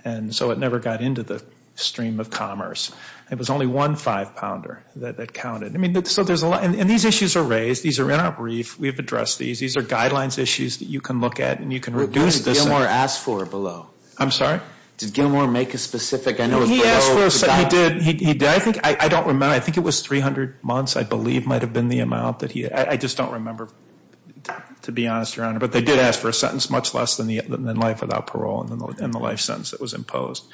And so it never got into the stream of commerce. It was only one five-pounder that counted. I mean, so there's a lot... And these issues are raised. These are not brief. We've addressed these. These are guidelines issues that you can look at and you can reduce this... What did Gilmour ask for below? I'm sorry? Did Gilmour make a specific... He asked for... He did. I don't remember. I think it was 300 months, I believe, might have been the amount that he... I just don't remember, to be honest, Your Honor. But they did ask for a sentence much less than the life without parole and the life sentence that was imposed.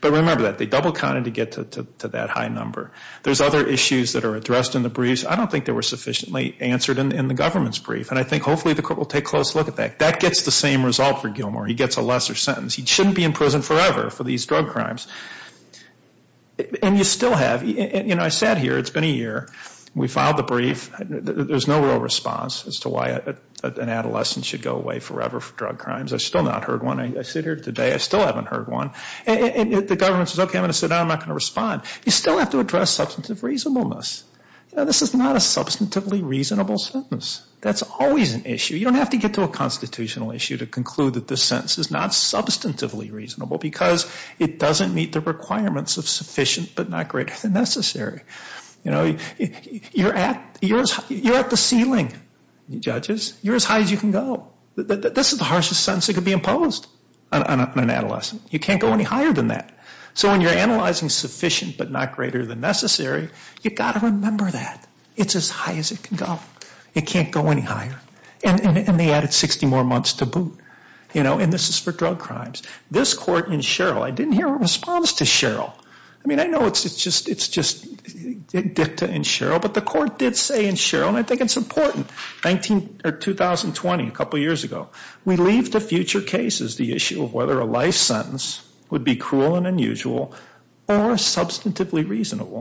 But remember that. They double counted to get to that high number. There's other issues that are addressed in the briefs. I don't think they were sufficiently answered in the government's brief. And I think hopefully the court will take a close look at that. That gets the same result for Gilmour. He gets a lesser sentence. He shouldn't be in prison forever for these drug crimes. And you still have... I sat here. It's been a year. We filed the brief. There's no real response as to why an adolescent should go away forever for drug crimes. I've still not heard one. I sit here today. I still haven't heard one. And the government says, okay, I'm going to sit down. I'm not going to respond. You still have to address substantive reasonableness. This is not a substantively reasonable sentence. That's always an issue. You don't have to get to a constitutional issue to conclude that this sentence is not substantively reasonable because it doesn't meet the requirements of sufficient but not greater than necessary. You're at the ceiling, judges. You're as high as you can go. This is the harshest sentence that could be imposed on an adolescent. You can't go any higher than that. So when you're analyzing sufficient but not greater than necessary, you've got to remember that. It's as high as it can go. It can't go any higher. And they added 60 more months to boot. And this is for drug crimes. This court in Sherrill, I didn't hear a response to Sherrill. I mean, I know it's just dicta in Sherrill, but the court did say in Sherrill, and I think it's important, in 2020, a couple years ago, we leave to future cases the issue of whether a life sentence would be cruel and unusual or substantively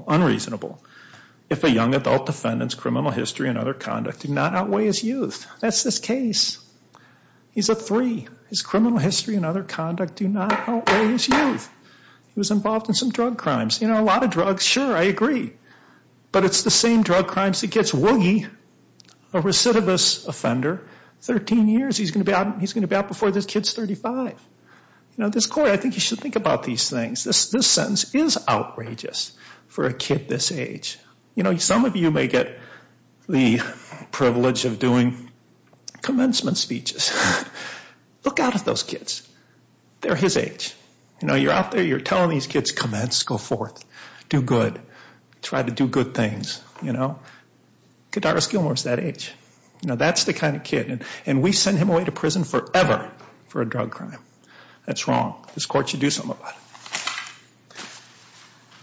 unreasonable if a young adult defendant's criminal history and other conduct do not outweigh his youth. That's his case. He's a three. His criminal history and other conduct do not outweigh his youth. He was involved in some drug crimes. You know, a lot of drugs, sure, I agree. But it's the same drug crimes that gets Woogie, a recidivist offender, 13 years. He's going to be out before this kid's 35. Now, this court, I think you should think about these things. This sentence is outrageous for a kid this age. You know, some of you may get the privilege of doing commencement speeches. Look out at those kids. They're his age. You know, you're out there, you're telling these kids, come on, let's go forth. Do good. Try to do good things, you know. Get out of Gilmore's that age. You know, that's the kind of kid. And we send him away to prison forever for a drug crime. That's wrong. This court should do something about it.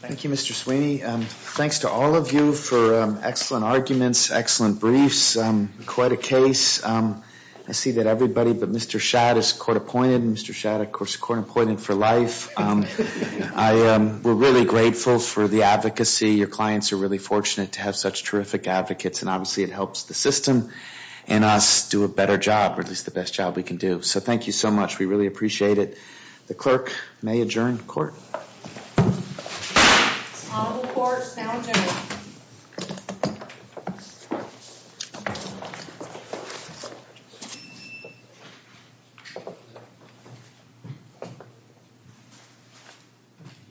Thank you, Mr. Sweeney. Thanks to all of you for excellent arguments, excellent briefs. Quite a case. I see that everybody but Mr. Schott is court-appointed. Mr. Schott, of course, court-appointed for life. We're really grateful for the advocacy. Your clients are really fortunate to have such terrific advocates, and obviously it helps the system and us do a better job, or at least the best job we can do. So thank you so much. We really appreciate it. The clerk may adjourn the court. Honorable court, now adjourned.